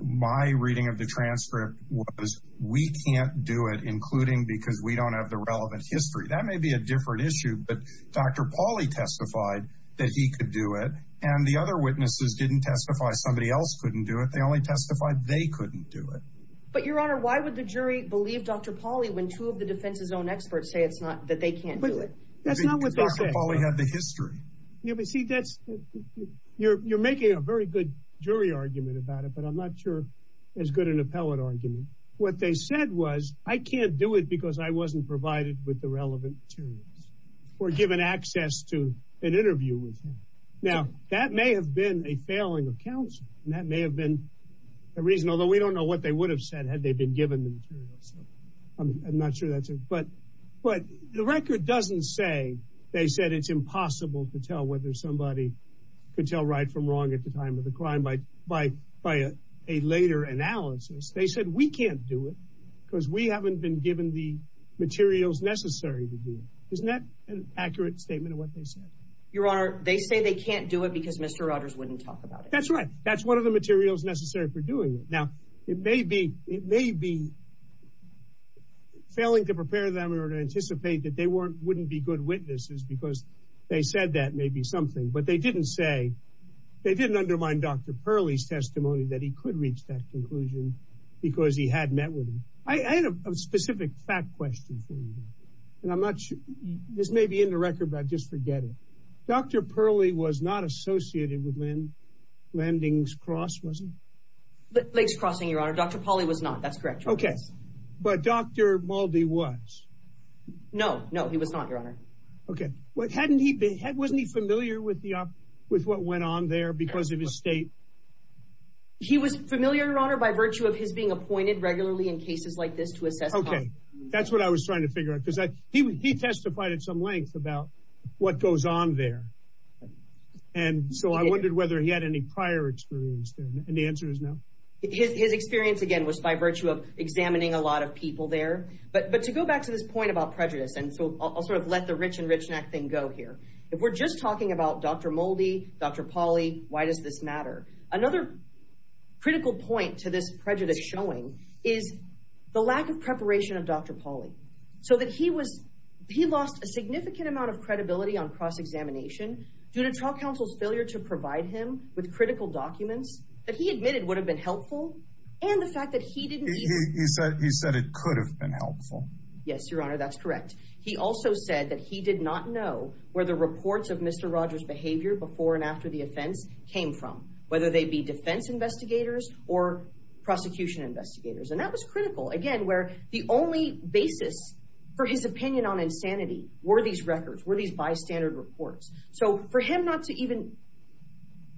My reading of the transcript was we can't do it, including because we don't have the relevant history. That may be a different issue, but Dr. Pauly testified that he could do it and the other witnesses didn't testify. Somebody else couldn't do it. They only testified they couldn't do it. But Your Honor, why would the jury believe Dr. Pauly when two of the defense's own experts say it's not that they can't do it? That's not what they said. You're making a very good jury argument about it, but I'm not sure as good an appellate argument. What they said was, I can't do it because I wasn't provided with the relevant materials or given access to an interview with me. Now, that may have been a failing of counsel and that may have been a reason, although we don't know what they would have said had they been given the materials. I'm not sure that's it. But the record doesn't say they said it's impossible to tell whether somebody could tell right from wrong at the time of the crime. By a later analysis, they said we can't do it because we haven't been given the materials necessary to do it. Isn't that an accurate statement of what they said? Your Honor, they say they can't do it because Mr. Rogers wouldn't talk about it. That's right. That's the materials necessary for doing it. Now, it may be failing to prepare them or to anticipate that they wouldn't be good witnesses because they said that may be something. But they didn't say, they didn't undermine Dr. Purley's testimony that he could reach that conclusion because he had met with him. I had a specific question for you. This may be in the record, I'm just forgetting. Dr. Purley was not associated with Lending's Cross, was he? Ledge Crossing, Your Honor. Dr. Pauley was not. That's correct. Okay. But Dr. Muldy was? No. No, he was not, Your Honor. Okay. Wasn't he familiar with what went on there because of his state? He was familiar, Your Honor, by virtue of his being appointed regularly in cases like this. Okay. That's what I was trying to figure out because he testified at some length about what goes on there. I wondered whether he had any prior experience there. The answer is no. His experience, again, was by virtue of examining a lot of people there. But to go back to this point about prejudice, I'll let the rich and rich next thing go here. If we're just talking about Dr. Muldy, Dr. Pauley, why does this matter? Another critical point to this prejudice showing is the lack of preparation of Dr. Pauley. He lost a significant amount of credibility on cross-examination due to trial counsel's failure to provide him with critical documents that he admitted would have been helpful and the fact that he didn't. He said it could have been helpful. Yes, Your Honor, that's correct. He also said that he did not know where the reports of Mr. Rogers' behavior before and after the offense came from, whether they be defense investigators or prosecution investigators. That was critical. Again, the only basis for his opinion on insanity were these records, were these bystander reports. For him not to even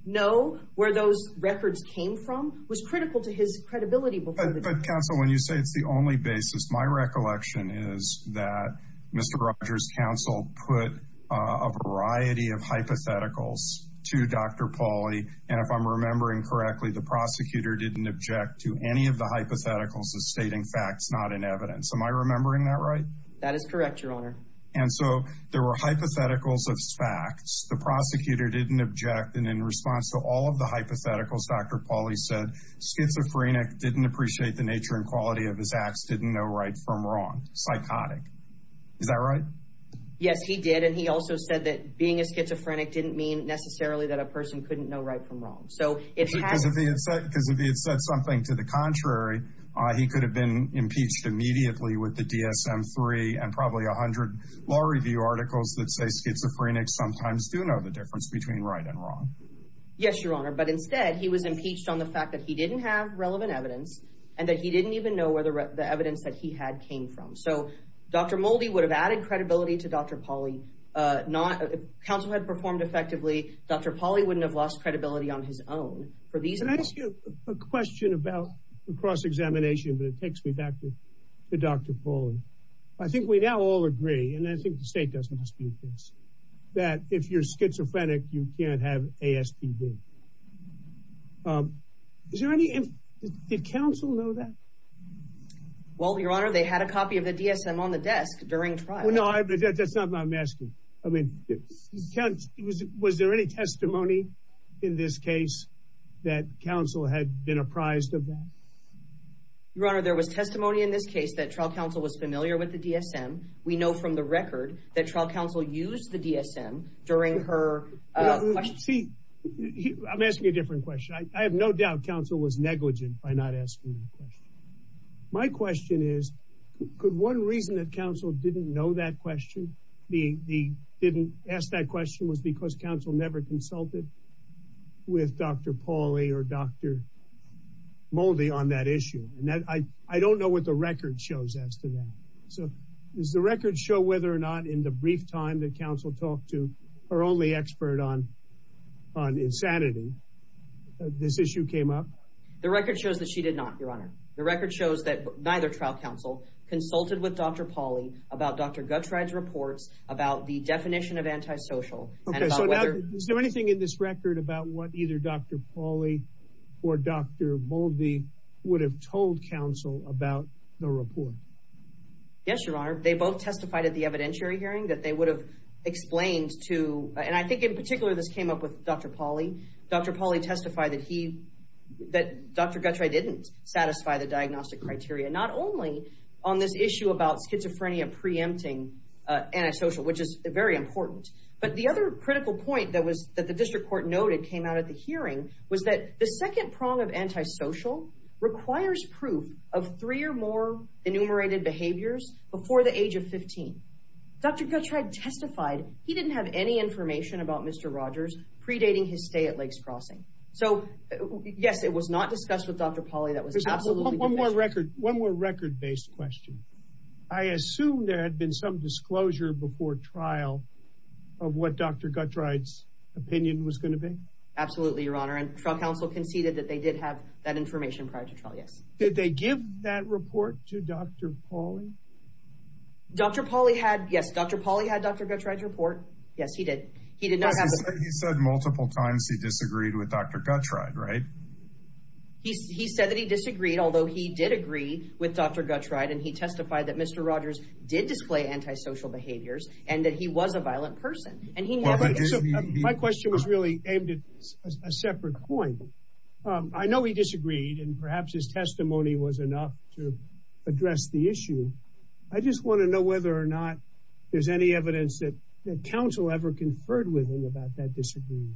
know where those records came from was critical to his credibility. Counsel, when you say it's the only basis, my recollection is that Mr. Rogers' counsel put a variety of hypotheticals to Dr. Pauley. If I'm remembering correctly, the prosecutor didn't object to any of the hypotheticals of stating facts, not in evidence. Am I remembering that right? That is correct, Your Honor. And so there were hypotheticals of facts. The prosecutor didn't object. And in response to all of the hypotheticals, Dr. Pauley said, schizophrenic, didn't appreciate the nature and quality of his acts, didn't know right from wrong, psychotic. Is that right? Yes, he did. And he also said that being a schizophrenic didn't mean necessarily that a person couldn't know right from wrong. Because if he had said something to the contrary, he could have been impeached immediately with the DSM-3 and probably a hundred law review articles that say schizophrenics sometimes do know the difference between right and wrong. Yes, Your Honor. But instead, he was impeached on the fact that he didn't have relevant evidence and that he didn't even know where the evidence that he had came from. So Dr. Moldy would have added credibility to Dr. Pauley. If counsel had performed effectively, Dr. Pauley wouldn't have lost credibility on his own. Can I ask you a question about the cross-examination that takes me back to Dr. Pauley? I think we now all agree, and I think the state doesn't dispute this, that if you're schizophrenic, you can't have ASPD. Did counsel know that? Well, Your Honor, they had a copy of the DSM on the desk during trial. That's not what I'm asking. I mean, was there any testimony in this case that counsel had been apprised of that? Your Honor, there was testimony in this case that trial counsel was familiar with the DSM. We know from the record that trial counsel used the DSM during her... I'm asking a different question. I have no doubt counsel was negligent by not asking that question. My question is, could one reason that counsel didn't know that question, didn't ask that question was because counsel never consulted with Dr. Pauley or Dr. Moldy on that issue? I don't know what the record shows as to that. So does the record show whether or not in the brief time that counsel talked to her only expert on insanity, this issue came up? The record shows that she did not, Your Honor. The record shows that neither trial counsel consulted with Dr. Pauley about Dr. Guthrie's report about the definition of antisocial. Is there anything in this record about what either Dr. Pauley or Dr. Moldy would have told counsel about the report? Yes, Your Honor. They both testified at the evidentiary hearing that they would have explained to... And I think in particular, this came up with Dr. Pauley. Dr. Pauley testified that Dr. Guthrie didn't satisfy the diagnostic criteria, not only on this issue about schizophrenia preempting antisocial, which is very important. But the other critical point that the district court noted came out of the hearing was that the second prong of antisocial requires proof of three or more enumerated behaviors before the age of 15. Dr. Guthrie testified he didn't have any information about Mr. Rogers predating his stay at Lakes Crossing. So, yes, it was not discussed with Dr. Pauley. That was absolutely... One more record-based question. I assume there had been some disclosure before trial of what Dr. Guthrie's opinion was going to be? Absolutely, Your Honor. And trial counsel conceded that they did have that information prior to trial, yes. Did they give that report to Dr. Pauley? Dr. Pauley had, yes, Dr. Pauley had Dr. Guthrie's report. Yes, he did. He did not have the... But he said multiple times he disagreed with Dr. Guthrie, right? He said that he disagreed, although he did agree with Dr. Guthrie, and he testified that Mr. Rogers did display antisocial behaviors, and that he was a violent person. And he never... My question was really aimed at a separate point. I know he disagreed, and perhaps his testimony was enough to address the issue. I just want to know whether or not there's any evidence that counsel ever conferred with him about that disagreement.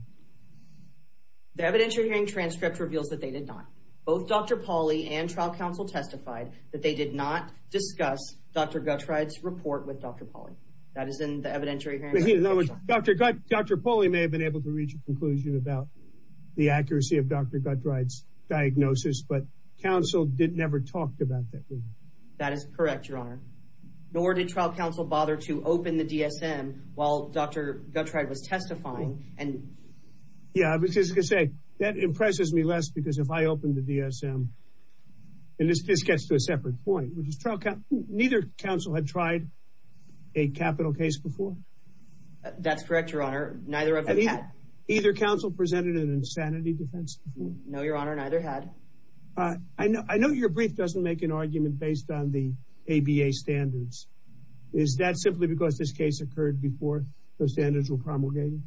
The evidentiary hearing transcript reveals that they did not. Both Dr. Pauley and trial counsel testified that they did not discuss Dr. Guthrie's report with Dr. Pauley. That has been the evidentiary hearing transcript. Dr. Pauley may have been able to reach a conclusion about the accuracy of Dr. Guthrie's diagnosis, but counsel never talked about that. That is correct, Your Honor. Nor did trial counsel bother to open the DSM while Dr. Guthrie was testifying. Yeah, I was just going to say, that impresses me less because if I open the DSM, and this gets to a separate point. Neither counsel had tried a capital case before? That's correct, Your Honor. Neither of them had. Either counsel presented an insanity defense? No, Your Honor. Neither had. I know your brief doesn't make an argument based on the ABA standards. Is that simply because this case occurred before the standards were promulgated?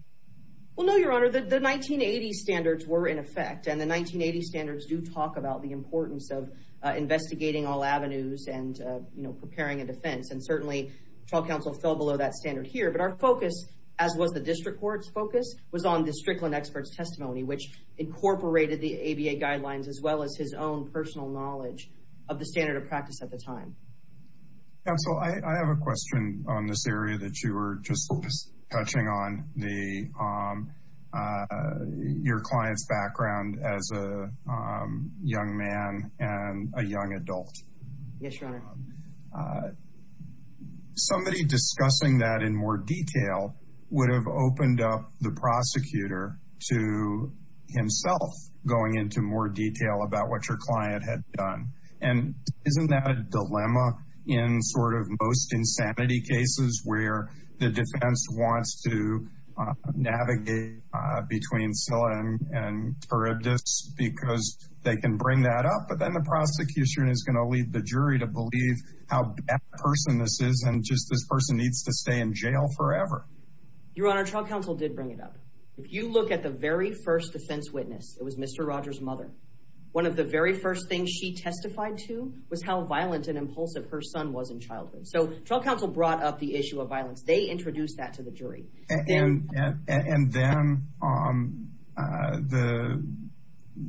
Well, no, Your Honor. The 1980 standards were in effect, and the 1980 standards do talk about the importance of investigating all avenues and preparing a defense. And certainly, trial counsel fell below that standard here. But our focus, as was the district court's focus, was on district and expert's testimony, which incorporated the ABA guidelines, as well as his own personal knowledge of the standard of practice at the time. Counsel, I have a question on this area that you were just touching on, your client's background as a young man and a young adult. Yes, Your Honor. Somebody discussing that in more detail would have opened up the prosecutor to himself, going into more detail about what your client had done. And isn't that a dilemma in sort of most insanity cases, where the defense wants to navigate between Till and Terribdis because they can bring that up, but then the prosecution is going to lead the jury to believe how bad a person this is, and just this person needs to stay in jail forever. Your Honor, trial counsel did bring it up. If you look at the very first defense witness, it was Mr. Rogers' mother. One of the very first things she testified to was how violent and impulsive her son was in childhood. So, trial counsel brought up the issue of violence. They introduced that to the jury. And then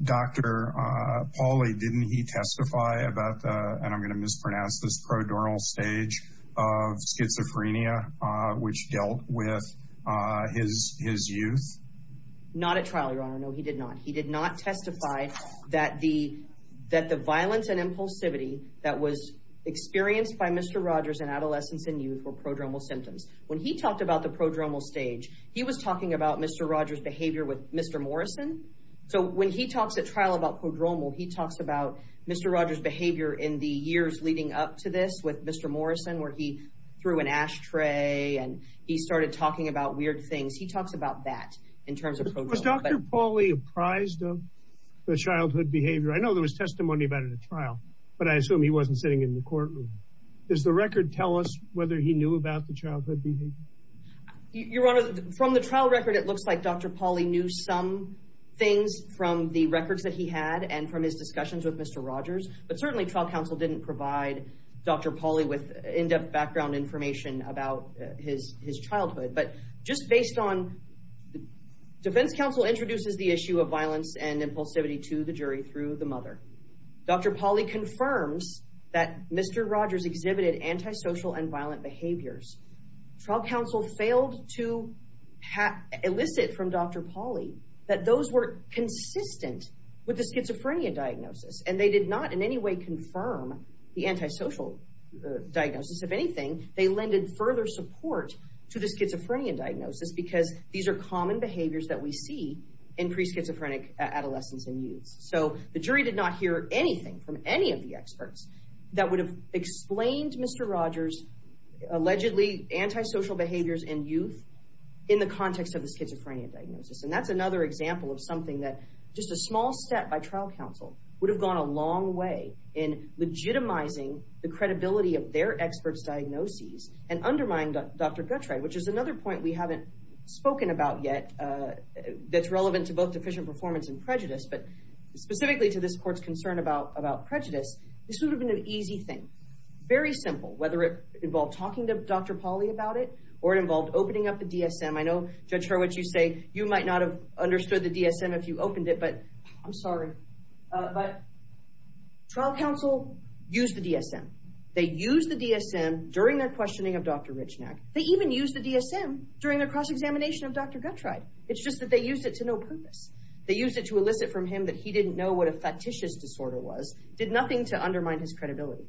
Dr. Pauly, didn't he testify about the, and I'm going to pronounce this, prodromal stage of schizophrenia, which dealt with his youth? Not at trial, Your Honor. No, he did not. He did not testify that the violence and impulsivity that was experienced by Mr. Rogers in adolescence and youth were prodromal symptoms. When he talked about the prodromal stage, he was talking about Mr. Rogers' behavior with Mr. Morrison. So, when he talks at trial about prodromal, he talks about Mr. Rogers' behavior in the years leading up to this with Mr. Morrison, where he threw an ashtray and he started talking about weird things. He talks about that in terms of prodromal. Was Dr. Pauly apprised of the childhood behavior? I know there was testimony about it at trial, but I assume he wasn't sitting in the courtroom. Does the record tell us whether he knew about the childhood behavior? Your Honor, from the trial record, it looks like Dr. Pauly knew some things from the records that he had and from his discussions with Mr. Rogers. But certainly, trial counsel didn't provide Dr. Pauly with in-depth background information about his childhood. But just based on defense counsel introduces the issue of violence and impulsivity to the jury through the mother. Dr. Pauly confirms that Mr. Rogers exhibited antisocial and violent behaviors. Trial counsel failed to elicit from Dr. Pauly that those were consistent with the schizophrenia diagnosis and they did not in any way confirm the antisocial diagnosis. If anything, they lended further support to the schizophrenia diagnosis because these are common behaviors that we see in preschizophrenic adolescents and youth. So the jury did not hear anything from any of the experts that would have explained Mr. Rogers' allegedly antisocial behaviors in youth in the context of the schizophrenia diagnosis. And that's another example of something that just a small step by trial counsel would have gone a long way in legitimizing the credibility of their experts' diagnoses and undermined Dr. Guttreich, which is another point we haven't spoken about yet that's relevant to both deficient performance and prejudice. But specifically to this court's about prejudice, this would have been an easy thing. Very simple, whether it involved talking to Dr. Pauly about it or it involved opening up the DSM. I know, Judge Hurwitz, you say you might not have understood the DSM if you opened it, but I'm sorry. But trial counsel used the DSM. They used the DSM during their questioning of Dr. Richnach. They even used the DSM during their cross-examination of Dr. Guttreich. It's just that they used it to no purpose. They used it to elicit from him that he didn't know what a fictitious disorder was, did nothing to undermine his credibility.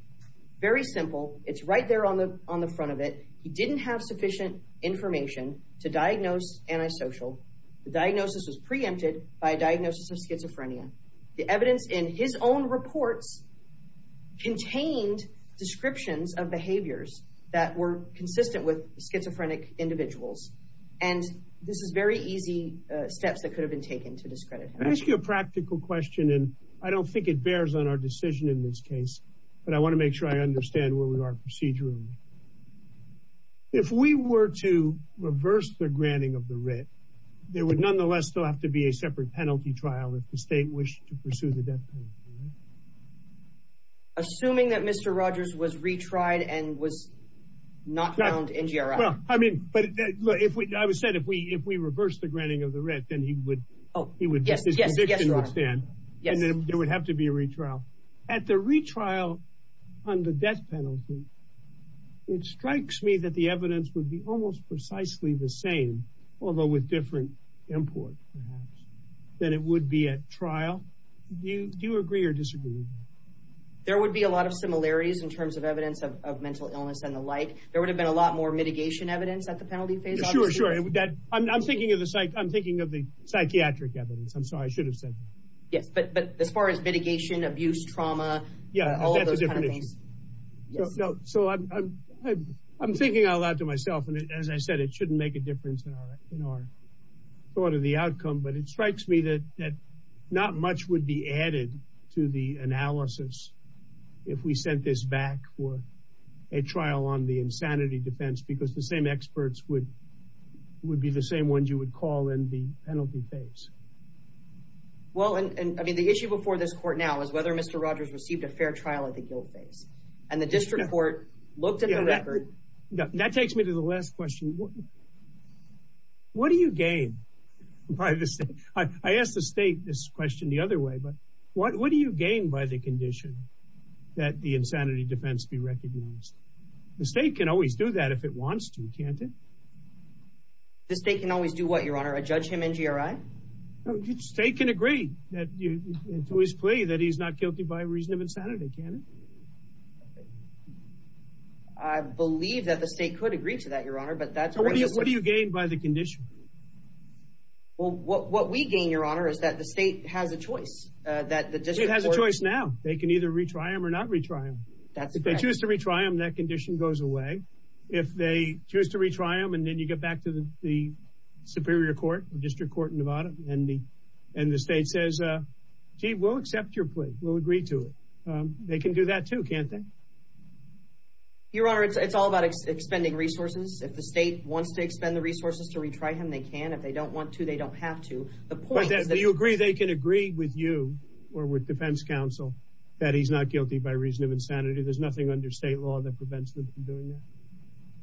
Very simple. It's right there on the front of it. He didn't have sufficient information to diagnose antisocial. The diagnosis was preempted by a diagnosis of schizophrenia. The evidence in his own report contained descriptions of behaviors that were consistent with schizophrenic individuals. And this is very easy steps that could have been taken to discredit him. Let me ask you a practical question, and I don't think it bears on our decision in this case, but I want to make sure I understand where we are procedurally. If we were to reverse the granting of the writ, there would nonetheless still have to be a separate penalty trial if the state wished to pursue the death penalty. Assuming that Mr. Rogers was retried and was not found in GRI. I mean, I would say if we reverse the granting of the writ, then he would get his conviction to stand, and then there would have to be a retrial. At the retrial on the death penalty, it strikes me that the evidence would be almost precisely the same, although with different import perhaps, than it would be at trial. Do you agree or disagree? There would be a lot of similarities in terms of evidence of mental illness and the like. There would have been a lot more mitigation evidence at the penalty phase. Sure, sure. I'm thinking of the psychiatric evidence. I'm sorry, I should have said that. Yeah, but as far as mitigation, abuse, trauma. Yeah, that's a different issue. So I'm thinking out loud to myself, and as I said, it shouldn't make a difference in our thought of the outcome, but it strikes me that not much would be added to the analysis if we sent this back for a trial on the insanity defense, because the same experts would be the same ones you would call in the penalty phase. Well, and I mean, the issue before this court now is whether Mr. Rogers received a fair trial at the guilt phase, and the district court looked at the record. That takes me to the last question. What do you gain by this? I asked the state this question the other way, but what do you gain by the condition that the insanity defense be recognized? The state can always do that if it wants to, can't it? The state can always do what, Your Honor? Judge him in GRI? No, the state can agree to his plea that he's not guilty by reason of insanity, can't it? I believe that the state could agree to that, Your Honor, but that's- What do you gain by the condition? Well, what we gain, Your Honor, is that the state has a choice. The state has a choice now. They can either retry him or not retry him. If they choose to retry him, that condition goes away. If they choose to retry him, and then you get back to the superior court, the district court in Nevada, and the state says, gee, we'll accept your plea. We'll agree to it. They can do that too, can't they? Your Honor, it's all about extending resources. If the state wants to extend the resources to retry him, they can. If they don't want to, they don't have to. But do you agree they can agree with you or with defense counsel that he's not guilty by reason of insanity? There's nothing under state law that prevents them from doing that?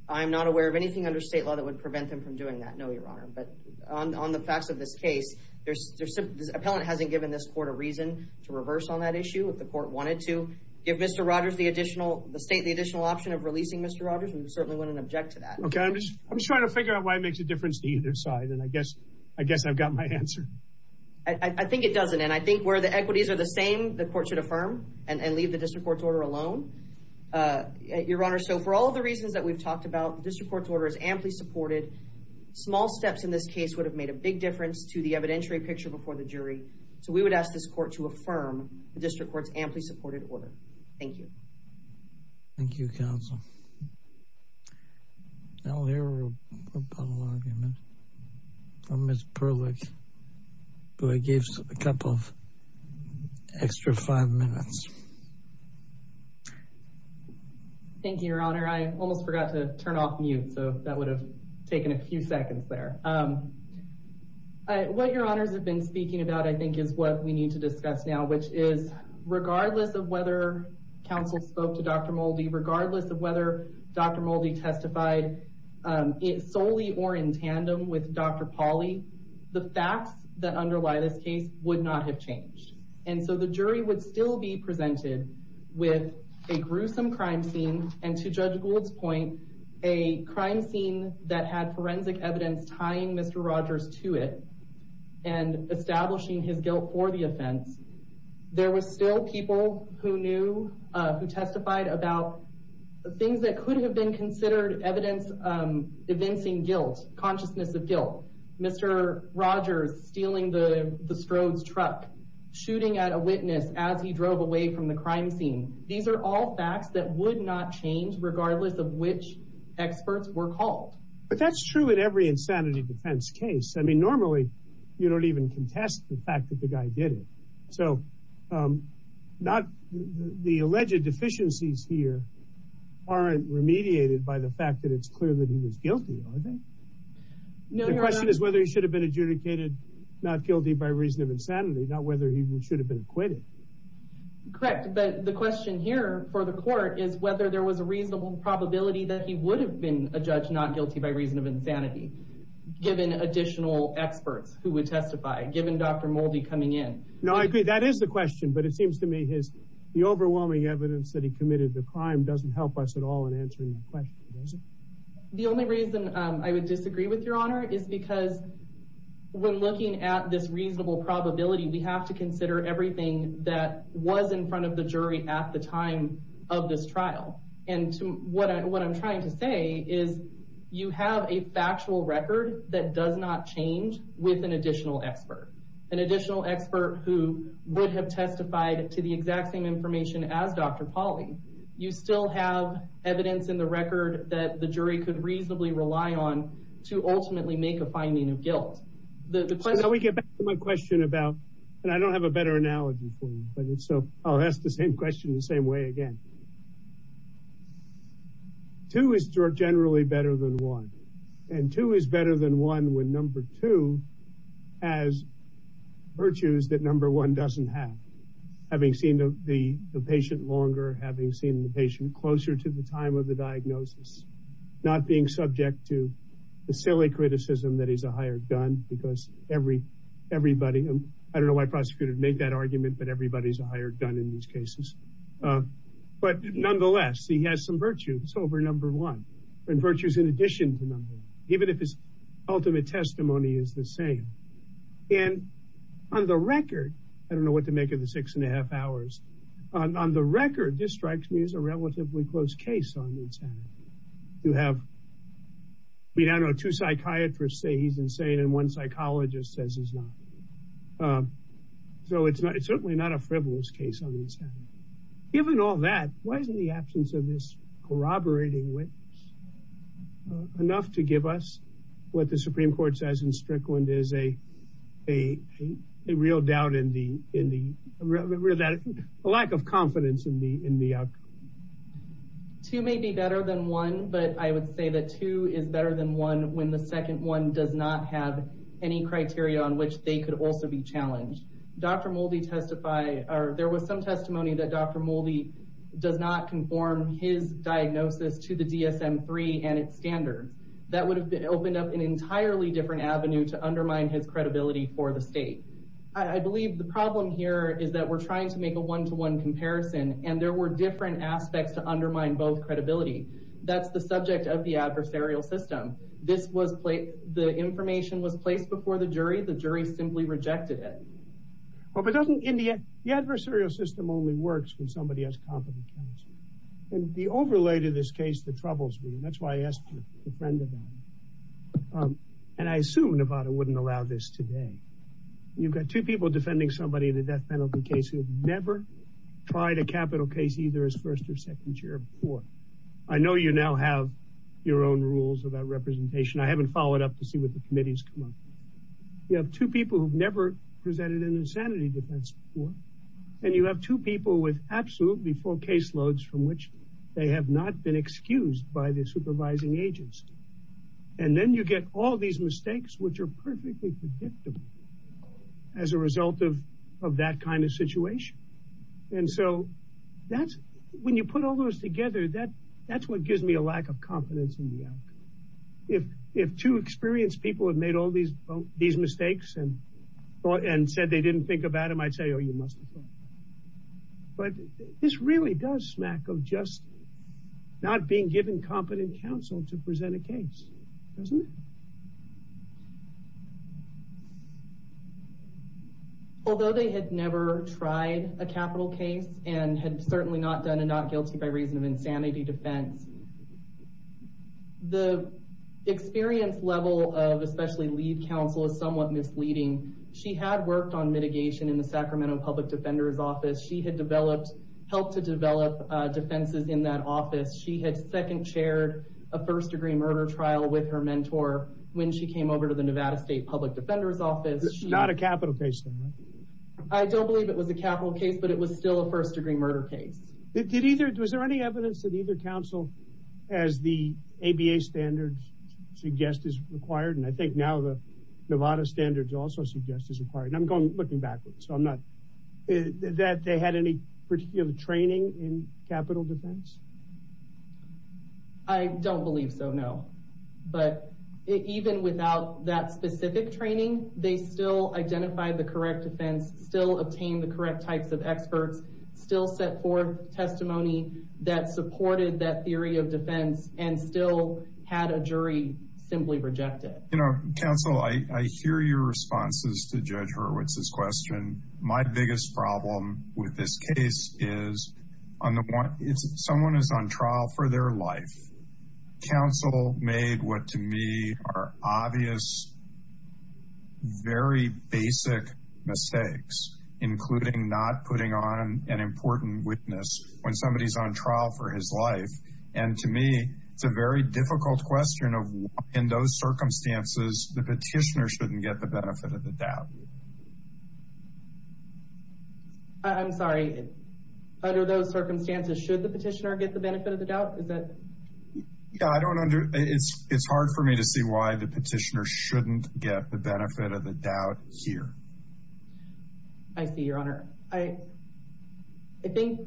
I'm not aware of anything under state law that would prevent them from doing that, no, Your Honor, but on the facts of this case, there's- the appellant hasn't given this court a reason to reverse on that issue if the court wanted to. Give Mr. Rogers the additional- the state the additional option of releasing Mr. Rogers, and we certainly wouldn't object to that. I'm just trying to figure out why it makes a difference to either side, and I guess I've got my answer. I think it doesn't, and I think where the equities are the same, the court should affirm and leave the district court's order alone. Your Honor, so for all the reasons that we've talked about, the district court's order is amply supported. Small steps in this case would have made a big difference to the evidentiary picture before the jury, so we would ask this court to affirm the district court's amply supported order. Thank you. Thank you, counsel. Now here we'll go to Ms. Perlich, who gives a couple of extra five minutes. Thank you, Your Honor. I almost forgot to turn off mute, so that would have taken a few seconds there. What Your Honors have been speaking about, I think, is what we need to discuss now, which is regardless of whether counsel spoke to Dr. Moldy, regardless of whether Dr. Moldy testified solely or in tandem with Dr. Pauley, the facts that underlie this case would not have changed, and so the jury would still be presented with a gruesome crime scene, and to Judge Gould's point, a crime scene that had forensic evidence tying Mr. Rogers to it and establishing his guilt for the offense. There were still people who knew, who testified about things that could have been considered evidence evincing guilt, consciousness of guilt. Mr. Rogers stealing the Strode's truck, shooting at a witness as he drove away from the crime scene. These are all facts that would not change regardless of which experts were called. But that's true in every insanity defense case. I mean, normally you don't even contest the fact that the guy did it, so the alleged deficiencies here aren't remediated by the fact that it's clear that he was guilty, are they? The question is whether he should have been adjudicated not guilty by reason of insanity, not whether he should have been acquitted. Correct, but the question here for the court is whether there was a reasonable probability that he would have been a judge not guilty by reason of insanity, given additional experts who would testify, given Dr. Moldy coming in. No, I agree. That is the question, but it seems to me the overwhelming evidence that he committed the crime doesn't help us at all in answering the question, does it? The only reason I would disagree with your honor is because when looking at this reasonable probability, we have to consider everything that was in front of the jury at the time of this trial. And what I'm trying to say is you have a factual record that does not change with an additional expert. An additional expert who would have testified to the exact same information as Dr. Pauly. You still have evidence in the record that the jury could reasonably rely on to ultimately make a finding of guilt. Now we get back to my question about, and I don't have a better analogy for you, but I'll ask the same question the same way again. Two is generally better than one, and two is better than one when number two has virtues that number one doesn't have. Having seen the patient longer, having seen the patient closer to the time of the diagnosis, not being subject to the silly criticism that he's a hired gun because everybody, and I don't know why prosecutors make that argument, but everybody's a hired gun in these cases. But nonetheless, he has some virtues over number one, and virtues in testimony is the same. And on the record, I don't know what to make of the six and a half hours, on the record, this strikes me as a relatively close case on insanity. You have, I don't know, two psychiatrists say he's insane, and one psychologist says he's not. So it's certainly not a frivolous case on insanity. Given all that, why is the absence of this corroborating witness enough to give us what the Supreme Court says in Strickland is a real doubt in the, a lack of confidence in the outcome? Two may be better than one, but I would say that two is better than one when the second one does not have any criteria on which they could also be challenged. Dr. Moldy testified, there was some testimony that Dr. Moldy does not conform his diagnosis to the DSM-3 and its standards. That would have opened up an entirely different avenue to undermine his credibility for the state. I believe the problem here is that we're trying to make a one-to-one comparison, and there were different aspects to undermine both credibility. That's the subject of the adversarial system. This was placed, the information was placed before the jury, the jury simply rejected it. Well, but doesn't, the adversarial system only works when somebody has confidence. The overlay to this case that troubles me, and that's why I asked to defend Nevada. And I assume Nevada wouldn't allow this today. You've got two people defending somebody in a death penalty case who have never tried a capital case either as first or second chair before. I know you now have your own rules of that representation. I haven't followed up to when the committees come up. You have two people who've never presented an insanity defense before, and you have two people with absolutely full caseloads from which they have not been excused by the supervising agents. And then you get all these mistakes, which are perfectly predictable as a result of that kind of situation. And so that's, when you put all those together, that's what gives me a lack of confidence in the outcome. If two experienced people have made all these mistakes and thought and said they didn't think about them, I'd say, oh, you must have thought. But this really does smack of just not being given competent counsel to present a case, doesn't it? Although they had never tried a capital case and had certainly not done a not guilty by reason of insanity defense. The experience level of especially lead counsel is somewhat misleading. She had worked on mitigation in the Sacramento Public Defender's Office. She had developed, helped to develop defenses in that office. She had second chaired a first degree murder trial with her mentor when she came over to the Nevada State Public Defender's Office. It's not a capital case. I don't believe it was a capital case, but it was still a first degree murder case. Was there any evidence that either counsel, as the ABA standards suggest is required, and I think now the Nevada standards also suggest is required. I'm going looking backwards. So I'm not, is that they had any particular training in capital defense? I don't believe so, no. But even without that specific training, they still identified the correct defense, still obtained the correct types of experts, still set forth testimony that supported that theory of defense, and still had a jury simply reject it. You know, counsel, I hear your responses to Judge Hurwitz's question. My biggest problem with this case is someone is on trial for their life. Counsel made what to me are obvious, very basic mistakes, including not putting on an important witness when somebody's on trial for his life. And to me, it's a very difficult question of in those circumstances, the petitioner shouldn't get the benefit of the doubt. I'm sorry, under those circumstances, should the petitioner get the benefit of the doubt? Is that I don't under, it's hard for me to see why the petitioner shouldn't get the benefit of the doubt here. I see your honor. I, I think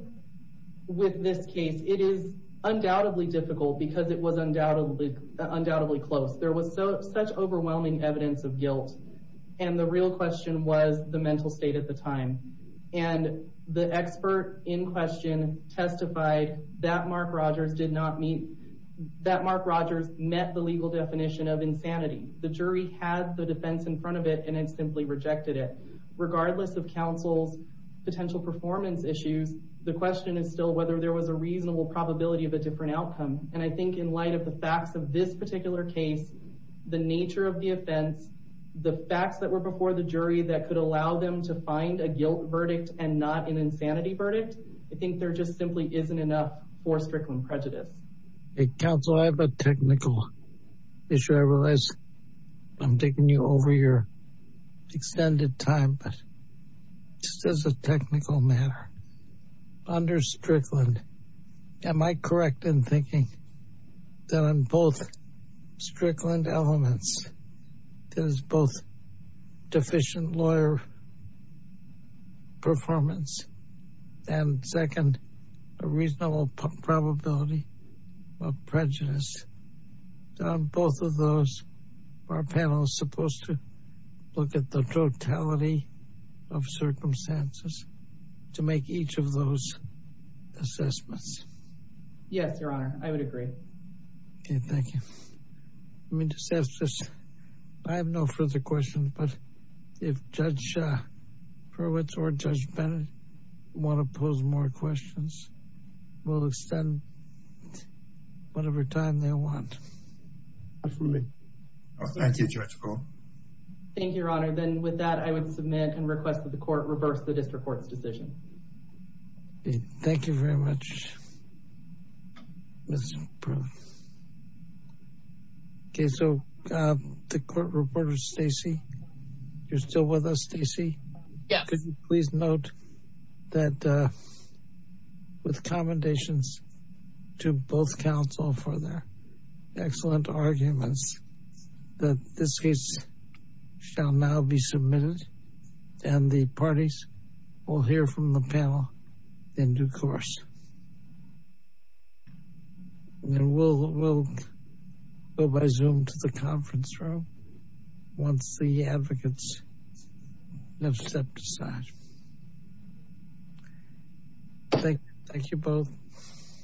with this case, it is undoubtedly difficult because it was undoubtedly, undoubtedly close. There was so such overwhelming evidence of guilt. And the real question was the mental state at the time. And the expert in question testified that Mark Rogers did not meet, that Mark Rogers met the legal definition of insanity. The jury has the defense in front of it, and it simply rejected it. Regardless of counsel's potential performance issue, the question is still whether there was a reasonable probability of a different outcome. And I think in light of the facts of this particular case, the nature of the offense, the facts that were before the jury that could allow them to find a guilt verdict and not an for Strickland prejudice. Counsel, I have a technical issue. I realize I'm taking you over your extended time, but just as a technical matter, under Strickland, am I correct in thinking that in both Strickland elements, there's both deficient lawyer performance and second, a reasonable probability of prejudice on both of those are panels supposed to look at the totality of circumstances to make each of those assessments. Yes, your honor. I would agree. Okay. Thank you. I mean, I have no further questions, but if judge for which our judgment want to pose more questions, we'll extend whatever time they want. Absolutely. Thank you, Jessica. Thank you, your honor. Then with that, I would submit and request that the court reverse the district court decision. Okay. Thank you very much. Okay. So the court reporter, Stacy, you're still with us, Stacy. Please note that with commendations to both counsel for their excellent arguments that this case shall now be submitted and the parties will hear from the panel in due course. And we'll go by Zoom to the conference room once the advocates have stepped aside. Thank you both.